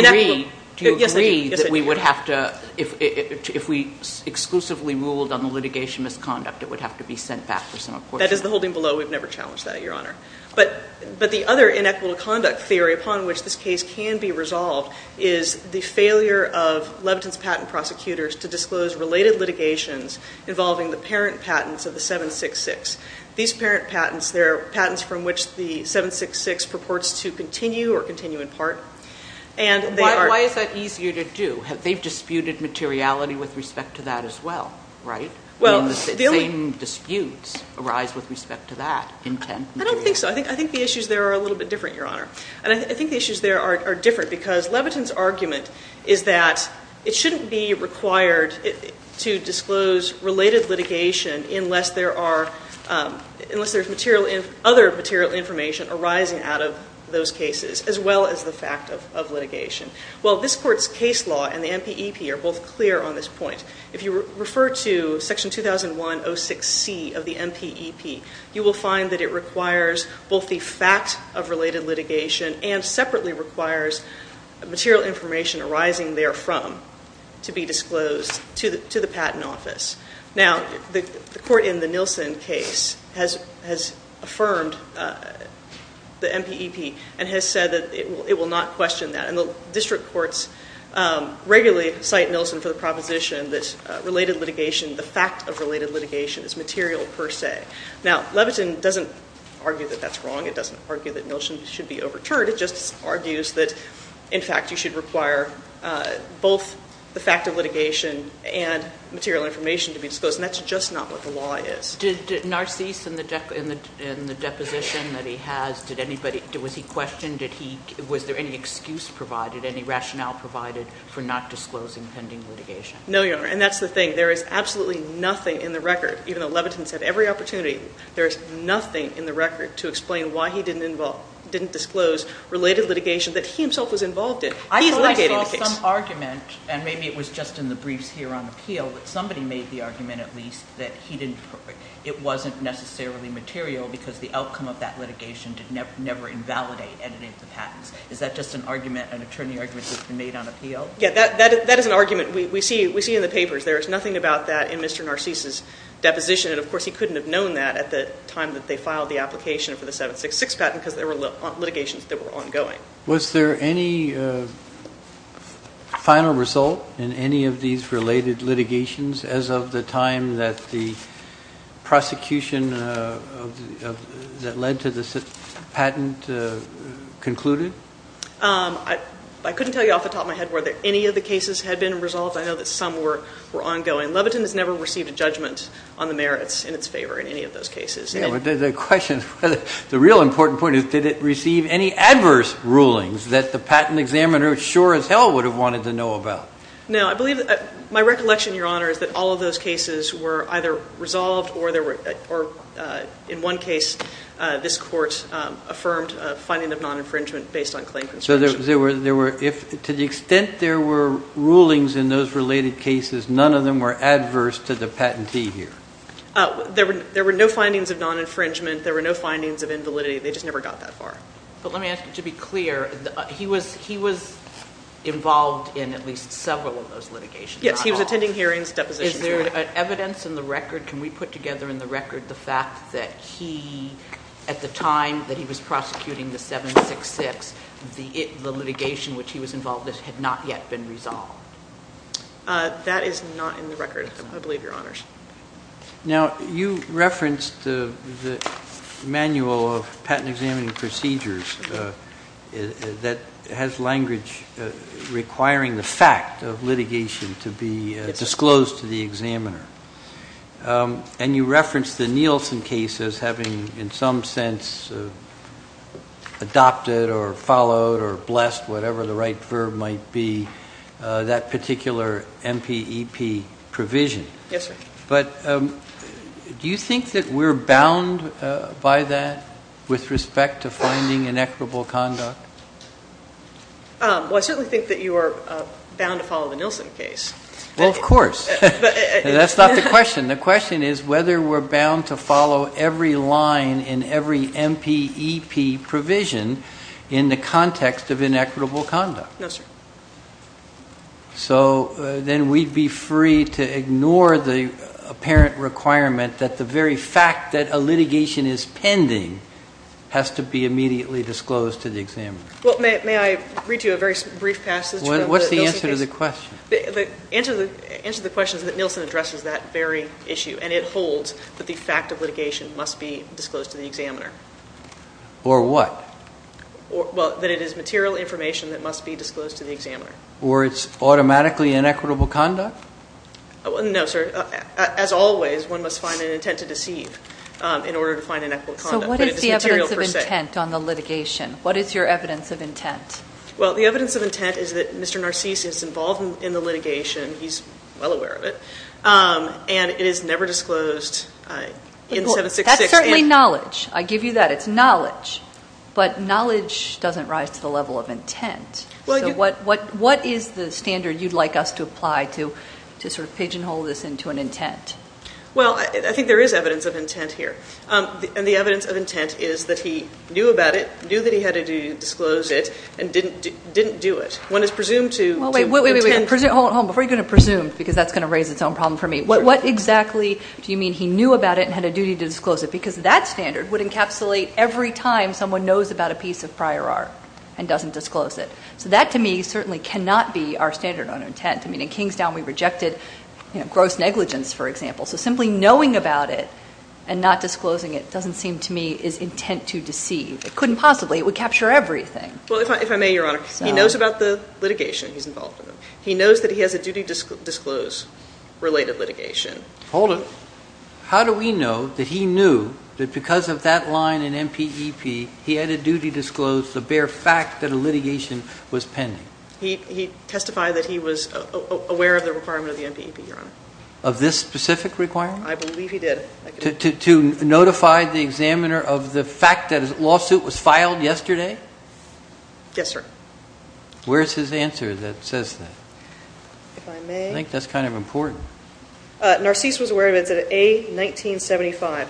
Do you agree that we would have to, if we exclusively ruled on the litigation misconduct, it would have to be sent back for some apportionment? That is the holding below. We've never challenged that, Your Honor. But the other inequitable conduct theory upon which this case can be resolved is the failure of Levitin's patent prosecutors to disclose related litigations involving the parent patents of the 766. These parent patents, they're patents from which the 766 purports to continue or continue in part. Why is that easier to do? They've disputed materiality with respect to that as well, right? The same disputes arise with respect to that intent. I don't think so. I think the issues there are a little bit different, Your Honor. And I think the issues there are different because Levitin's argument is that it shouldn't be required to disclose related litigation unless there's other material information arising out of those cases as well as the fact of litigation. Well, this Court's case law and the MPEP are both clear on this point. If you refer to Section 2106C of the MPEP, you will find that it requires both the fact of related litigation and separately requires material information arising therefrom to be disclosed to the patent office. Now, the court in the Nielsen case has affirmed the MPEP and has said that it will not question that. And the district courts regularly cite Nielsen for the proposition that related litigation, the fact of related litigation is material per se. Now, Levitin doesn't argue that that's wrong. It doesn't argue that Nielsen should be overturned. The court just argues that, in fact, you should require both the fact of litigation and material information to be disclosed, and that's just not what the law is. Did Narcisse in the deposition that he has, did anybody, was he questioned? Was there any excuse provided, any rationale provided for not disclosing pending litigation? No, Your Honor, and that's the thing. There is absolutely nothing in the record, even though Levitin said every opportunity, there is nothing in the record to explain why he didn't disclose related litigation that he himself was involved in. He's litigating the case. I thought I saw some argument, and maybe it was just in the briefs here on appeal, that somebody made the argument at least that it wasn't necessarily material because the outcome of that litigation did never invalidate editing of the patents. Is that just an argument, an attorney argument that's been made on appeal? Yeah, that is an argument we see in the papers. There is nothing about that in Mr. Narcisse's deposition, and, of course, he couldn't have known that at the time that they filed the application for the 766 patent because there were litigations that were ongoing. Was there any final result in any of these related litigations as of the time that the prosecution that led to the patent concluded? I couldn't tell you off the top of my head whether any of the cases had been resolved. I know that some were ongoing. Levitin has never received a judgment on the merits in its favor in any of those cases. Yeah, well, the question is, the real important point is, did it receive any adverse rulings that the patent examiner, sure as hell, would have wanted to know about? No. I believe that my recollection, Your Honor, is that all of those cases were either resolved or, in one case, this Court affirmed a finding of non-infringement based on claim construction. So to the extent there were rulings in those related cases, none of them were adverse to the patentee here? There were no findings of non-infringement. There were no findings of invalidity. They just never got that far. But let me ask you, to be clear, he was involved in at least several of those litigations. Yes, he was attending hearings, depositions. Is there evidence in the record, can we put together in the record, the fact that he, at the time that he was prosecuting the 766, the litigation which he was involved in had not yet been resolved? That is not in the record, I believe, Your Honors. Now, you referenced the manual of patent examining procedures that has language requiring the fact of litigation to be disclosed to the examiner. And you referenced the Nielsen case as having, in some sense, adopted or followed or blessed, whatever the right verb might be, that particular MPEP provision. Yes, sir. But do you think that we're bound by that with respect to finding inequitable conduct? Well, I certainly think that you are bound to follow the Nielsen case. Well, of course. That's not the question. The question is whether we're bound to follow every line in every MPEP provision in the context of inequitable conduct. No, sir. So then we'd be free to ignore the apparent requirement that the very fact that a litigation is pending has to be immediately disclosed to the examiner. Well, may I read you a very brief passage from the Nielsen case? What's the answer to the question? The answer to the question is that Nielsen addresses that very issue, and it holds that the fact of litigation must be disclosed to the examiner. Or what? Well, that it is material information that must be disclosed to the examiner. Or it's automatically inequitable conduct? No, sir. As always, one must find an intent to deceive in order to find inequitable conduct. So what is the evidence of intent on the litigation? What is your evidence of intent? Well, the evidence of intent is that Mr. Narcisse is involved in the litigation. He's well aware of it. And it is never disclosed in 766. That's certainly knowledge. I give you that. It's knowledge. But knowledge doesn't rise to the level of intent. So what is the standard you'd like us to apply to sort of pigeonhole this into an intent? Well, I think there is evidence of intent here. And the evidence of intent is that he knew about it, knew that he had a duty to disclose it, and didn't do it. When it's presumed to intent. Well, wait, wait, wait. Hold on. Before you go into presumed, because that's going to raise its own problem for me, what exactly do you mean he knew about it and had a duty to disclose it? Because that standard would encapsulate every time someone knows about a piece of prior art and doesn't disclose it. So that, to me, certainly cannot be our standard on intent. I mean, in Kingstown we rejected gross negligence, for example. So simply knowing about it and not disclosing it doesn't seem to me is intent to deceive. It couldn't possibly. It would capture everything. Well, if I may, Your Honor, he knows about the litigation he's involved in. He knows that he has a duty to disclose related litigation. Hold it. How do we know that he knew that because of that line in MPEP, he had a duty to disclose the bare fact that a litigation was pending? Of this specific requirement? I believe he did. To notify the examiner of the fact that a lawsuit was filed yesterday? Yes, sir. Where is his answer that says that? If I may. I think that's kind of important. Narcisse was aware of it. It's at A-1975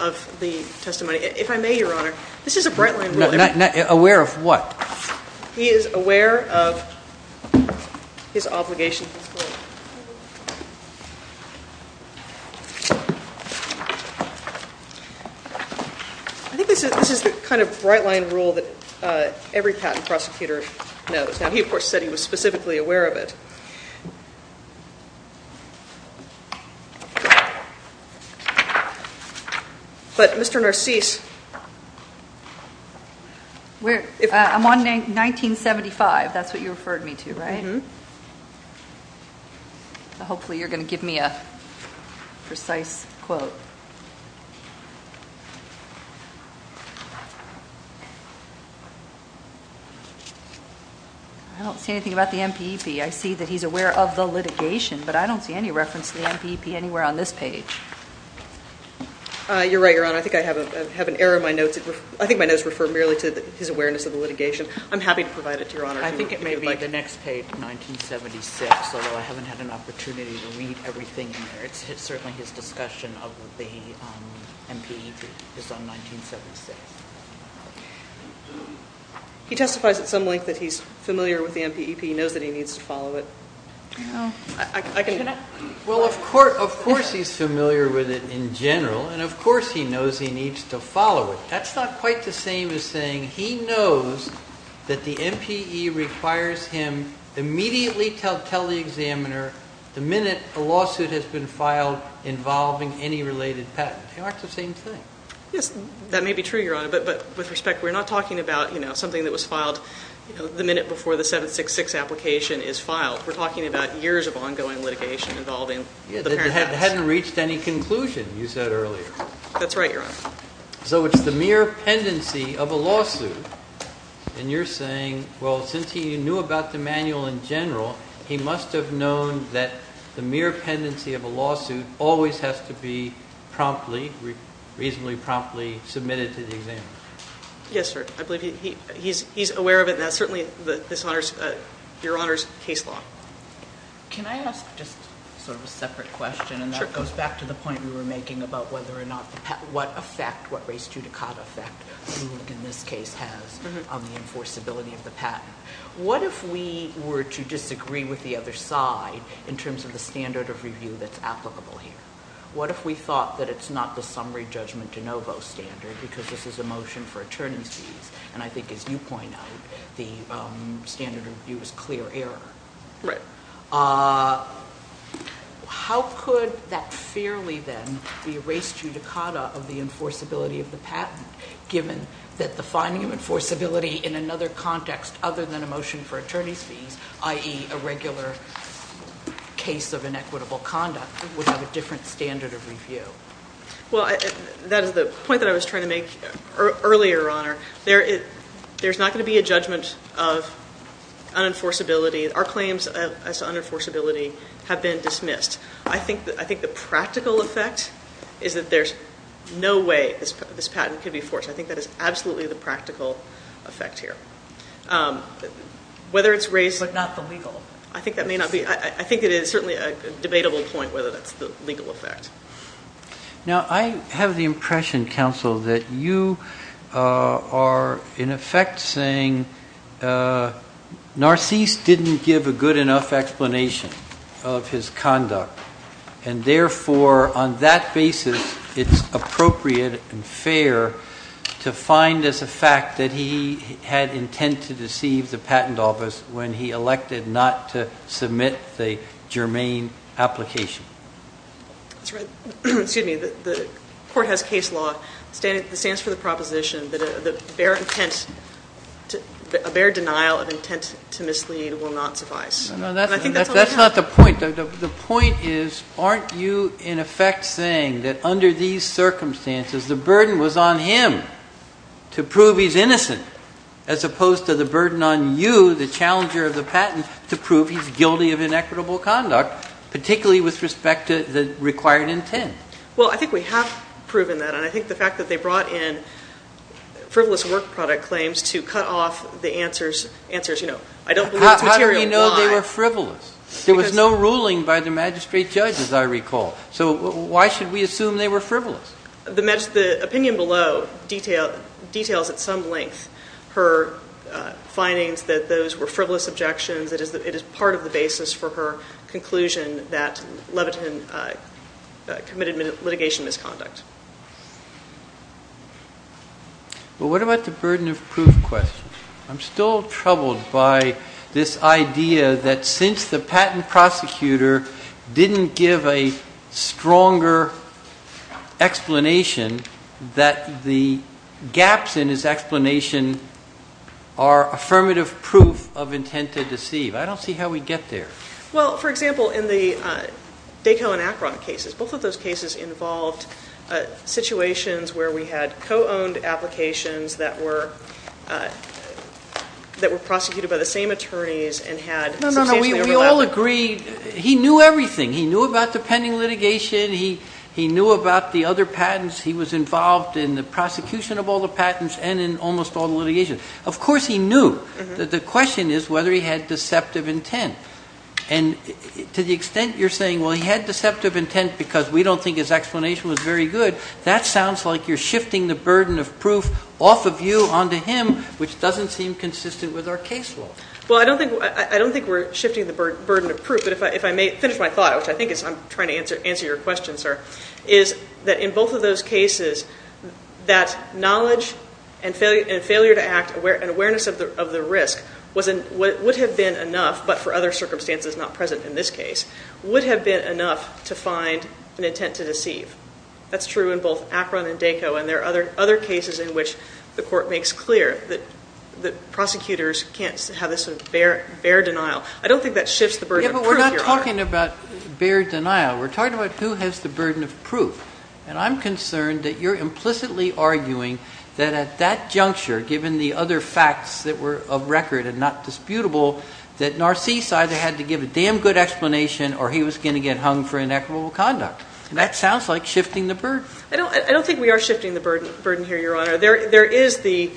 of the testimony. If I may, Your Honor, this is a bright line rule. Aware of what? He is aware of his obligation to disclose. I think this is the kind of bright line rule that every patent prosecutor knows. Now, he, of course, said he was specifically aware of it. But Mr. Narcisse. I'm on A-1975. That's what you referred me to, right? Hopefully you're going to give me a precise quote. I don't see anything about the MPEP. I see that he's aware of the litigation, but I don't see any reference to the MPEP anywhere on this page. You're right, Your Honor. I think I have an error in my notes. I think my notes refer merely to his awareness of the litigation. I'm happy to provide it to Your Honor. I think it may be the next page, 1976, although I haven't had an opportunity to read everything in there. It's certainly his discussion of the MPEP. It's on 1976. He testifies at some length that he's familiar with the MPEP. He knows that he needs to follow it. Well, of course he's familiar with it in general, and of course he knows he needs to follow it. That's not quite the same as saying he knows that the MPE requires him to immediately tell the examiner the minute a lawsuit has been filed involving any related patent. They aren't the same thing. Yes, that may be true, Your Honor, but with respect, we're not talking about something that was filed the minute before the 766 application is filed. We're talking about years of ongoing litigation involving the parents. But it hadn't reached any conclusion, you said earlier. That's right, Your Honor. So it's the mere pendency of a lawsuit, and you're saying, well, since he knew about the manual in general, he must have known that the mere pendency of a lawsuit always has to be promptly, reasonably promptly submitted to the examiner. Yes, sir. I believe he's aware of it, and that's certainly Your Honor's case law. Can I ask just sort of a separate question? Sure. And that goes back to the point you were making about whether or not what effect, what res judicata effect, you think in this case has on the enforceability of the patent. What if we were to disagree with the other side in terms of the standard of review that's applicable here? What if we thought that it's not the summary judgment de novo standard because this is a motion for attorneys fees, and I think as you point out, the standard of review is clear error. Right. How could that fairly then be a res judicata of the enforceability of the patent, given that the finding of enforceability in another context other than a motion for attorneys fees, i.e., a regular case of inequitable conduct, would have a different standard of review? Well, that is the point that I was trying to make earlier, Your Honor. There's not going to be a judgment of unenforceability. Our claims as to unenforceability have been dismissed. I think the practical effect is that there's no way this patent could be forced. I think that is absolutely the practical effect here. But not the legal. I think that may not be. I think it is certainly a debatable point whether that's the legal effect. Now, I have the impression, counsel, that you are in effect saying Narcisse didn't give a good enough explanation of his conduct, and therefore on that basis it's appropriate and fair to find as a fact that he had intent to deceive the patent office when he elected not to submit the germane application. That's right. Excuse me. The court has case law. It stands for the proposition that a bare denial of intent to mislead will not suffice. That's not the point. The point is, aren't you in effect saying that under these circumstances, the burden was on him to prove he's innocent as opposed to the burden on you, the challenger of the patent, to prove he's guilty of inequitable conduct, particularly with respect to the required intent? Well, I think we have proven that, and I think the fact that they brought in frivolous work product claims to cut off the answers, you know, I don't believe it's material. How do we know they were frivolous? There was no ruling by the magistrate judge, as I recall. So why should we assume they were frivolous? The opinion below details at some length her findings that those were frivolous objections, that it is part of the basis for her conclusion that Levitin committed litigation misconduct. Well, what about the burden of proof question? I'm still troubled by this idea that since the patent prosecutor didn't give a stronger explanation, that the gaps in his explanation are affirmative proof of intent to deceive. I don't see how we'd get there. Well, for example, in the Daco and Akron cases, both of those cases involved situations where we had co-owned applications that were prosecuted by the same attorneys and had substantially overlap. No, no, no, we all agreed he knew everything. He knew about the pending litigation. He knew about the other patents. He was involved in the prosecution of all the patents and in almost all the litigation. Of course he knew. The question is whether he had deceptive intent. And to the extent you're saying, well, he had deceptive intent because we don't think his explanation was very good, that sounds like you're shifting the burden of proof off of you onto him, which doesn't seem consistent with our case law. Well, I don't think we're shifting the burden of proof. But if I may finish my thought, which I think is I'm trying to answer your question, sir, is that in both of those cases that knowledge and failure to act and awareness of the risk would have been enough, but for other circumstances not present in this case, would have been enough to find an intent to deceive. That's true in both Akron and Daco. And there are other cases in which the court makes clear that prosecutors can't have this sort of bare denial. I don't think that shifts the burden of proof, Your Honor. Yeah, but we're not talking about bare denial. We're talking about who has the burden of proof. And I'm concerned that you're implicitly arguing that at that juncture, given the other facts that were of record and not disputable, that Narcisse either had to give a damn good explanation or he was going to get hung for inequitable conduct. And that sounds like shifting the burden. I don't think we are shifting the burden here, Your Honor. There is the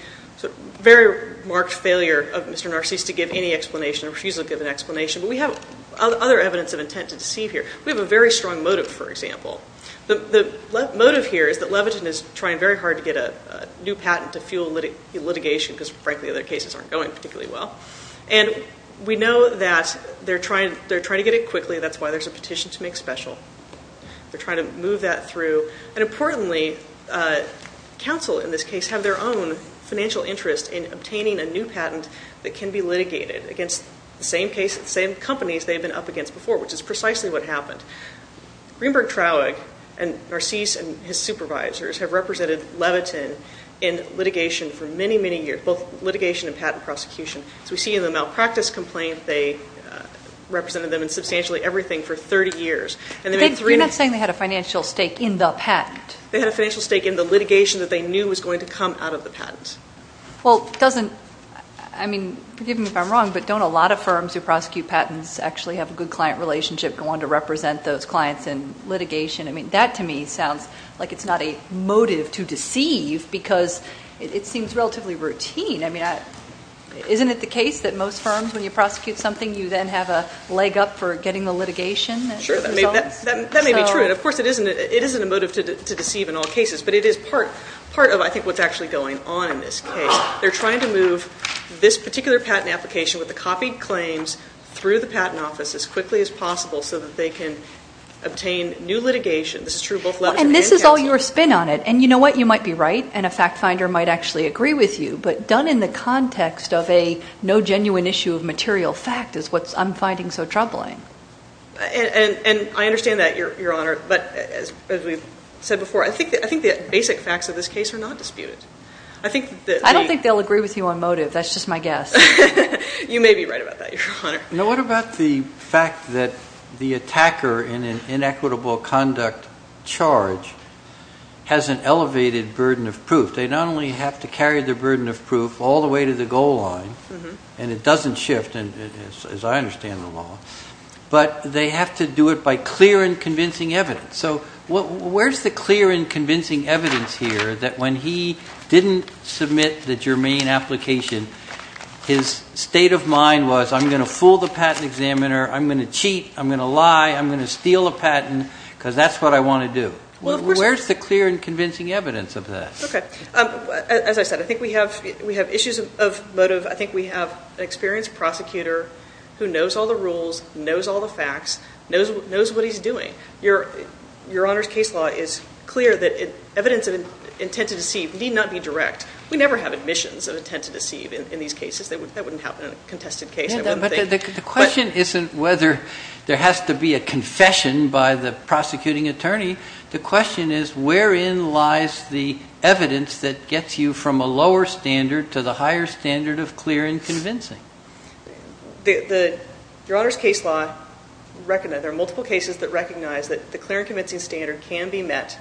very marked failure of Mr. Narcisse to give any explanation or refuse to give an explanation. But we have other evidence of intent to deceive here. We have a very strong motive, for example. The motive here is that Levitin is trying very hard to get a new patent to fuel litigation because, frankly, other cases aren't going particularly well. And we know that they're trying to get it quickly. That's why there's a petition to make special. They're trying to move that through. And importantly, counsel in this case have their own financial interest in obtaining a new patent that can be litigated against the same companies they've been up against before, which is precisely what happened. Greenberg Traug and Narcisse and his supervisors have represented Levitin in litigation for many, many years, both litigation and patent prosecution. As we see in the malpractice complaint, they represented them in substantially everything for 30 years. You're not saying they had a financial stake in the patent? They had a financial stake in the litigation that they knew was going to come out of the patent. Well, doesn't – I mean, forgive me if I'm wrong, but don't a lot of firms who prosecute patents actually have a good client relationship and want to represent those clients in litigation? I mean, that to me sounds like it's not a motive to deceive because it seems relatively routine. I mean, isn't it the case that most firms, when you prosecute something, you then have a leg up for getting the litigation? Sure, that may be true, and, of course, it isn't a motive to deceive in all cases, but it is part of, I think, what's actually going on in this case. They're trying to move this particular patent application with the copied claims through the patent office as quickly as possible so that they can obtain new litigation. This is true of both Levitin and Cancel. And this is all your spin on it, and you know what? You might be right, and a fact finder might actually agree with you, but done in the context of a no genuine issue of material fact is what I'm finding so troubling. And I understand that, Your Honor, but as we've said before, I think the basic facts of this case are not disputed. I don't think they'll agree with you on motive. That's just my guess. You may be right about that, Your Honor. What about the fact that the attacker in an inequitable conduct charge has an elevated burden of proof? They not only have to carry the burden of proof all the way to the goal line, and it doesn't shift as I understand the law, but they have to do it by clear and convincing evidence. So where's the clear and convincing evidence here that when he didn't submit the germane application, his state of mind was I'm going to fool the patent examiner, I'm going to cheat, I'm going to lie, I'm going to steal a patent because that's what I want to do. Where's the clear and convincing evidence of that? Okay. As I said, I think we have issues of motive. I think we have an experienced prosecutor who knows all the rules, knows all the facts, knows what he's doing. Your Honor's case law is clear that evidence of intent to deceive need not be direct. We never have admissions of intent to deceive in these cases. That wouldn't happen in a contested case. The question isn't whether there has to be a confession by the prosecuting attorney. The question is wherein lies the evidence that gets you from a lower standard to the higher standard of clear and convincing. Your Honor's case law, there are multiple cases that recognize that the clear and convincing standard can be met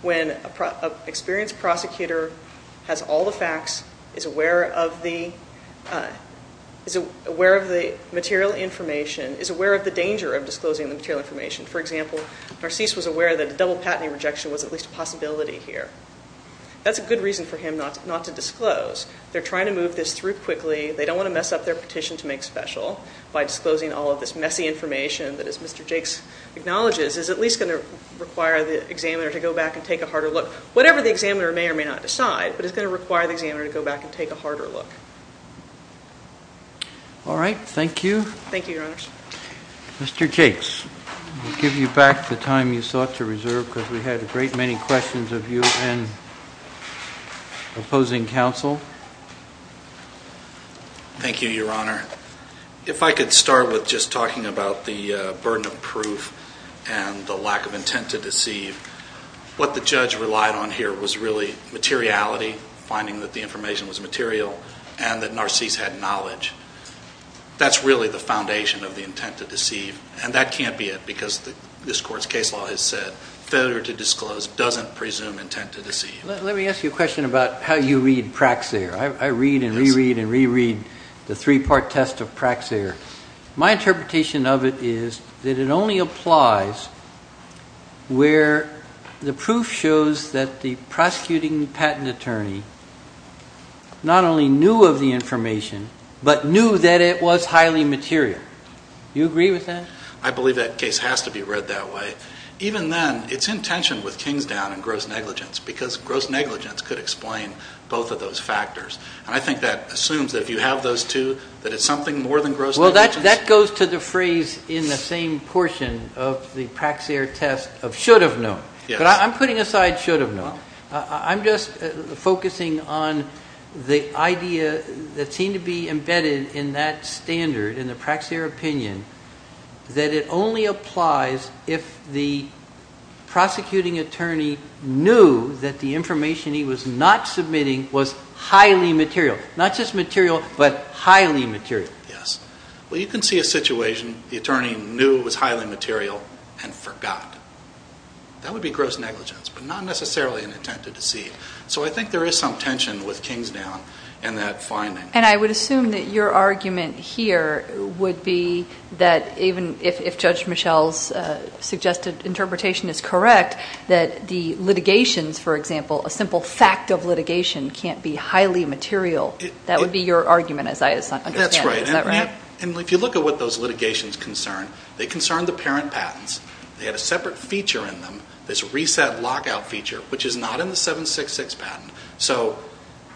when an experienced prosecutor has all the facts, is aware of the material information, is aware of the danger of disclosing the material information. For example, Narcisse was aware that a double patenting rejection was at least a possibility here. That's a good reason for him not to disclose. They're trying to move this through quickly. They don't want to mess up their petition to make special by disclosing all of this messy information that, as Mr. Jakes acknowledges, is at least going to require the examiner to go back and take a harder look. Whatever the examiner may or may not decide, but it's going to require the examiner to go back and take a harder look. All right. Thank you. Thank you, Your Honors. Mr. Jakes, I'll give you back the time you sought to reserve because we had a great many questions of you and opposing counsel. Thank you, Your Honor. If I could start with just talking about the burden of proof and the lack of intent to deceive. What the judge relied on here was really materiality, finding that the information was material, and that Narcisse had knowledge. That's really the foundation of the intent to deceive, and that can't be it because this court's case law has said failure to disclose doesn't presume intent to deceive. Let me ask you a question about how you read Praxair. I read and reread and reread the three-part test of Praxair. My interpretation of it is that it only applies where the proof shows that the prosecuting patent attorney not only knew of the information, but knew that it was highly material. Do you agree with that? I believe that case has to be read that way. Even then, it's in tension with Kingsdown and gross negligence because gross negligence could explain both of those factors, and I think that assumes that if you have those two that it's something more than gross negligence. Well, that goes to the phrase in the same portion of the Praxair test of should have known. Yes. But I'm putting aside should have known. I'm just focusing on the idea that seemed to be embedded in that standard, in the Praxair opinion, that it only applies if the prosecuting attorney knew that the information he was not submitting was highly material, not just material but highly material. Yes. Well, you can see a situation the attorney knew was highly material and forgot. That would be gross negligence, but not necessarily an attempt to deceive. So I think there is some tension with Kingsdown in that finding. And I would assume that your argument here would be that even if Judge Michelle's suggested interpretation is correct, that the litigations, for example, a simple fact of litigation can't be highly material. That would be your argument as I understand it. That's right. Is that right? And if you look at what those litigations concern, they concern the parent patents. They have a separate feature in them, this reset lockout feature, which is not in the 766 patent. So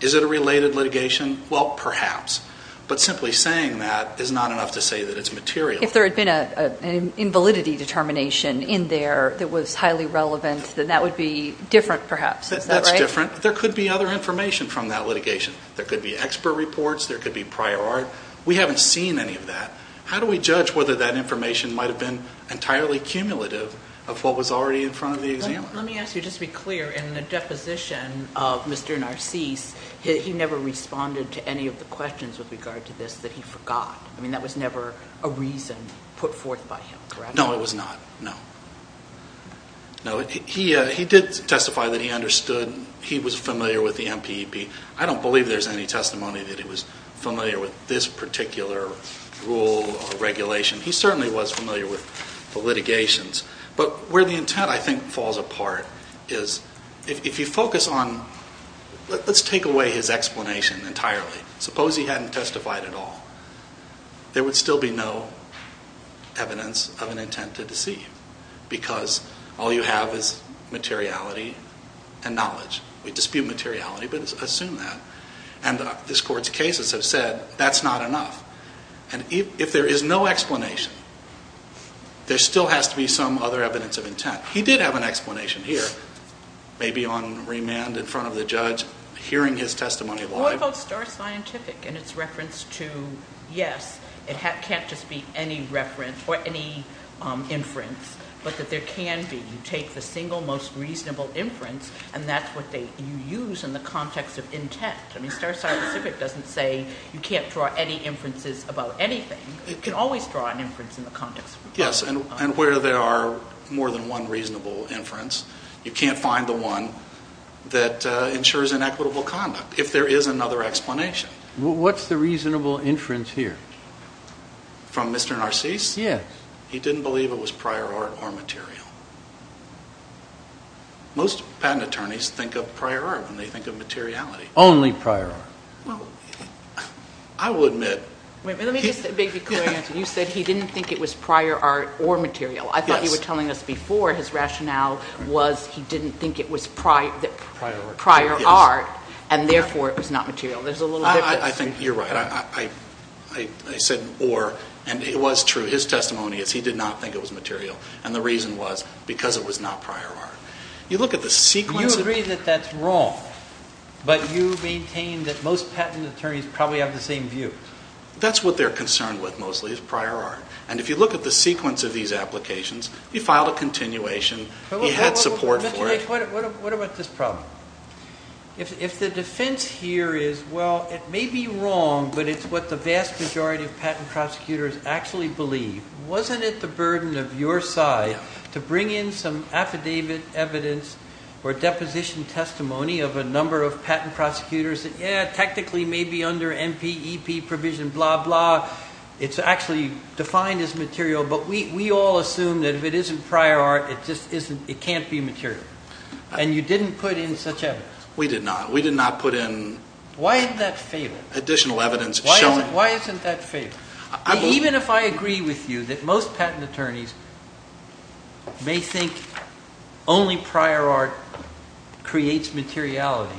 is it a related litigation? Well, perhaps. But simply saying that is not enough to say that it's material. If there had been an invalidity determination in there that was highly relevant, then that would be different perhaps. Is that right? That's different. There could be other information from that litigation. There could be expert reports. There could be prior art. We haven't seen any of that. How do we judge whether that information might have been entirely cumulative of what was already in front of the examiner? Let me ask you just to be clear. In the deposition of Mr. Narcisse, he never responded to any of the questions with regard to this that he forgot. I mean, that was never a reason put forth by him, correct? No, it was not. No. No, he did testify that he understood. He was familiar with the MPEB. I don't believe there's any testimony that he was familiar with this particular rule or regulation. He certainly was familiar with the litigations. But where the intent, I think, falls apart is if you focus on let's take away his explanation entirely. Suppose he hadn't testified at all. There would still be no evidence of an intent to deceive because all you have is materiality and knowledge. We dispute materiality, but assume that. And this Court's cases have said that's not enough. And if there is no explanation, there still has to be some other evidence of intent. He did have an explanation here, maybe on remand in front of the judge, hearing his testimony live. What about star scientific and its reference to, yes, it can't just be any reference or any inference, but that there can be. You take the single most reasonable inference, and that's what you use in the context of intent. I mean, star scientific doesn't say you can't draw any inferences about anything. You can always draw an inference in the context. Yes, and where there are more than one reasonable inference, you can't find the one that ensures an equitable conduct if there is another explanation. What's the reasonable inference here? From Mr. Narcisse? Yes. He didn't believe it was prior art or material. Most patent attorneys think of prior art when they think of materiality. Only prior art. Well, I will admit. Let me just make a clear answer. You said he didn't think it was prior art or material. I thought you were telling us before his rationale was he didn't think it was prior art, and therefore it was not material. There's a little difference. I think you're right. I said or, and it was true. His testimony is he did not think it was material, and the reason was because it was not prior art. You look at the sequence. You agree that that's wrong, but you maintain that most patent attorneys probably have the same view. That's what they're concerned with, mostly, is prior art. And if you look at the sequence of these applications, he filed a continuation. He had support for it. What about this problem? If the defense here is, well, it may be wrong, but it's what the vast majority of patent prosecutors actually believe, wasn't it the burden of your side to bring in some affidavit evidence or deposition testimony of a number of patent prosecutors that, yeah, technically may be under MPEP provision, blah, blah. It's actually defined as material, but we all assume that if it isn't prior art, it can't be material. And you didn't put in such evidence. We did not. We did not put in additional evidence. Why isn't that fatal? Even if I agree with you that most patent attorneys may think only prior art creates materiality,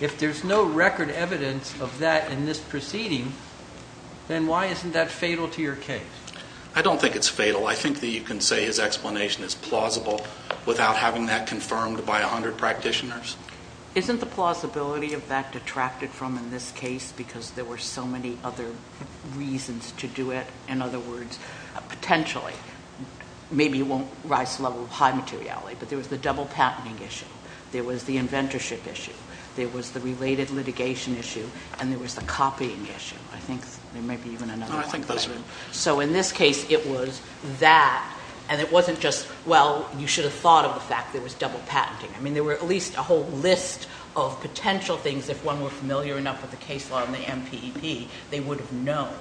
if there's no record evidence of that in this proceeding, then why isn't that fatal to your case? I don't think it's fatal. I think that you can say his explanation is plausible without having that confirmed by 100 practitioners. Isn't the plausibility of that detracted from in this case because there were so many other reasons to do it? In other words, potentially, maybe it won't rise to the level of high materiality, but there was the double patenting issue. There was the inventorship issue. There was the related litigation issue, and there was the copying issue. I think there may be even another one. So in this case, it was that, and it wasn't just, well, you should have thought of the fact there was double patenting. I mean, there were at least a whole list of potential things. If one were familiar enough with the case law and the MPEP, they would have known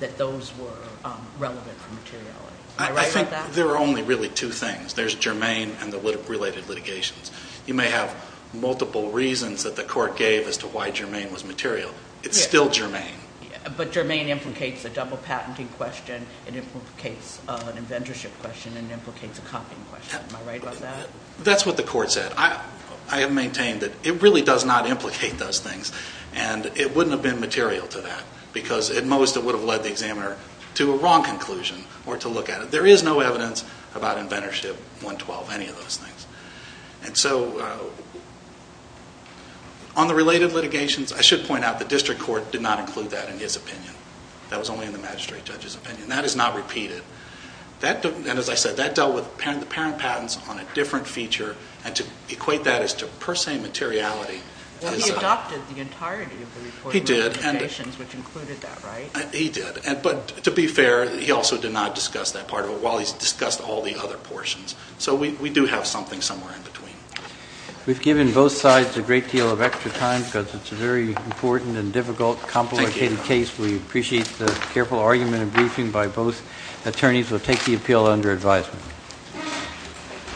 that those were relevant for materiality. I think there are only really two things. There's germane and the related litigations. You may have multiple reasons that the court gave as to why germane was material. It's still germane. But germane implicates the double patenting question. It implicates an inventorship question, and it implicates a copying question. Am I right about that? That's what the court said. I have maintained that it really does not implicate those things, and it wouldn't have been material to that because at most it would have led the examiner to a wrong conclusion or to look at it. There is no evidence about inventorship 112, any of those things. And so on the related litigations, I should point out the district court did not include that in his opinion. That was only in the magistrate judge's opinion. That is not repeated. And as I said, that dealt with the parent patents on a different feature, and to equate that as to per se materiality. Well, he adopted the entirety of the report. He did. Which included that, right? He did. But to be fair, he also did not discuss that part of it while he's discussed all the other portions. So we do have something somewhere in between. We've given both sides a great deal of extra time because it's a very important and difficult, complicated case. We appreciate the careful argument and briefing by both attorneys. We'll take the appeal under advisement.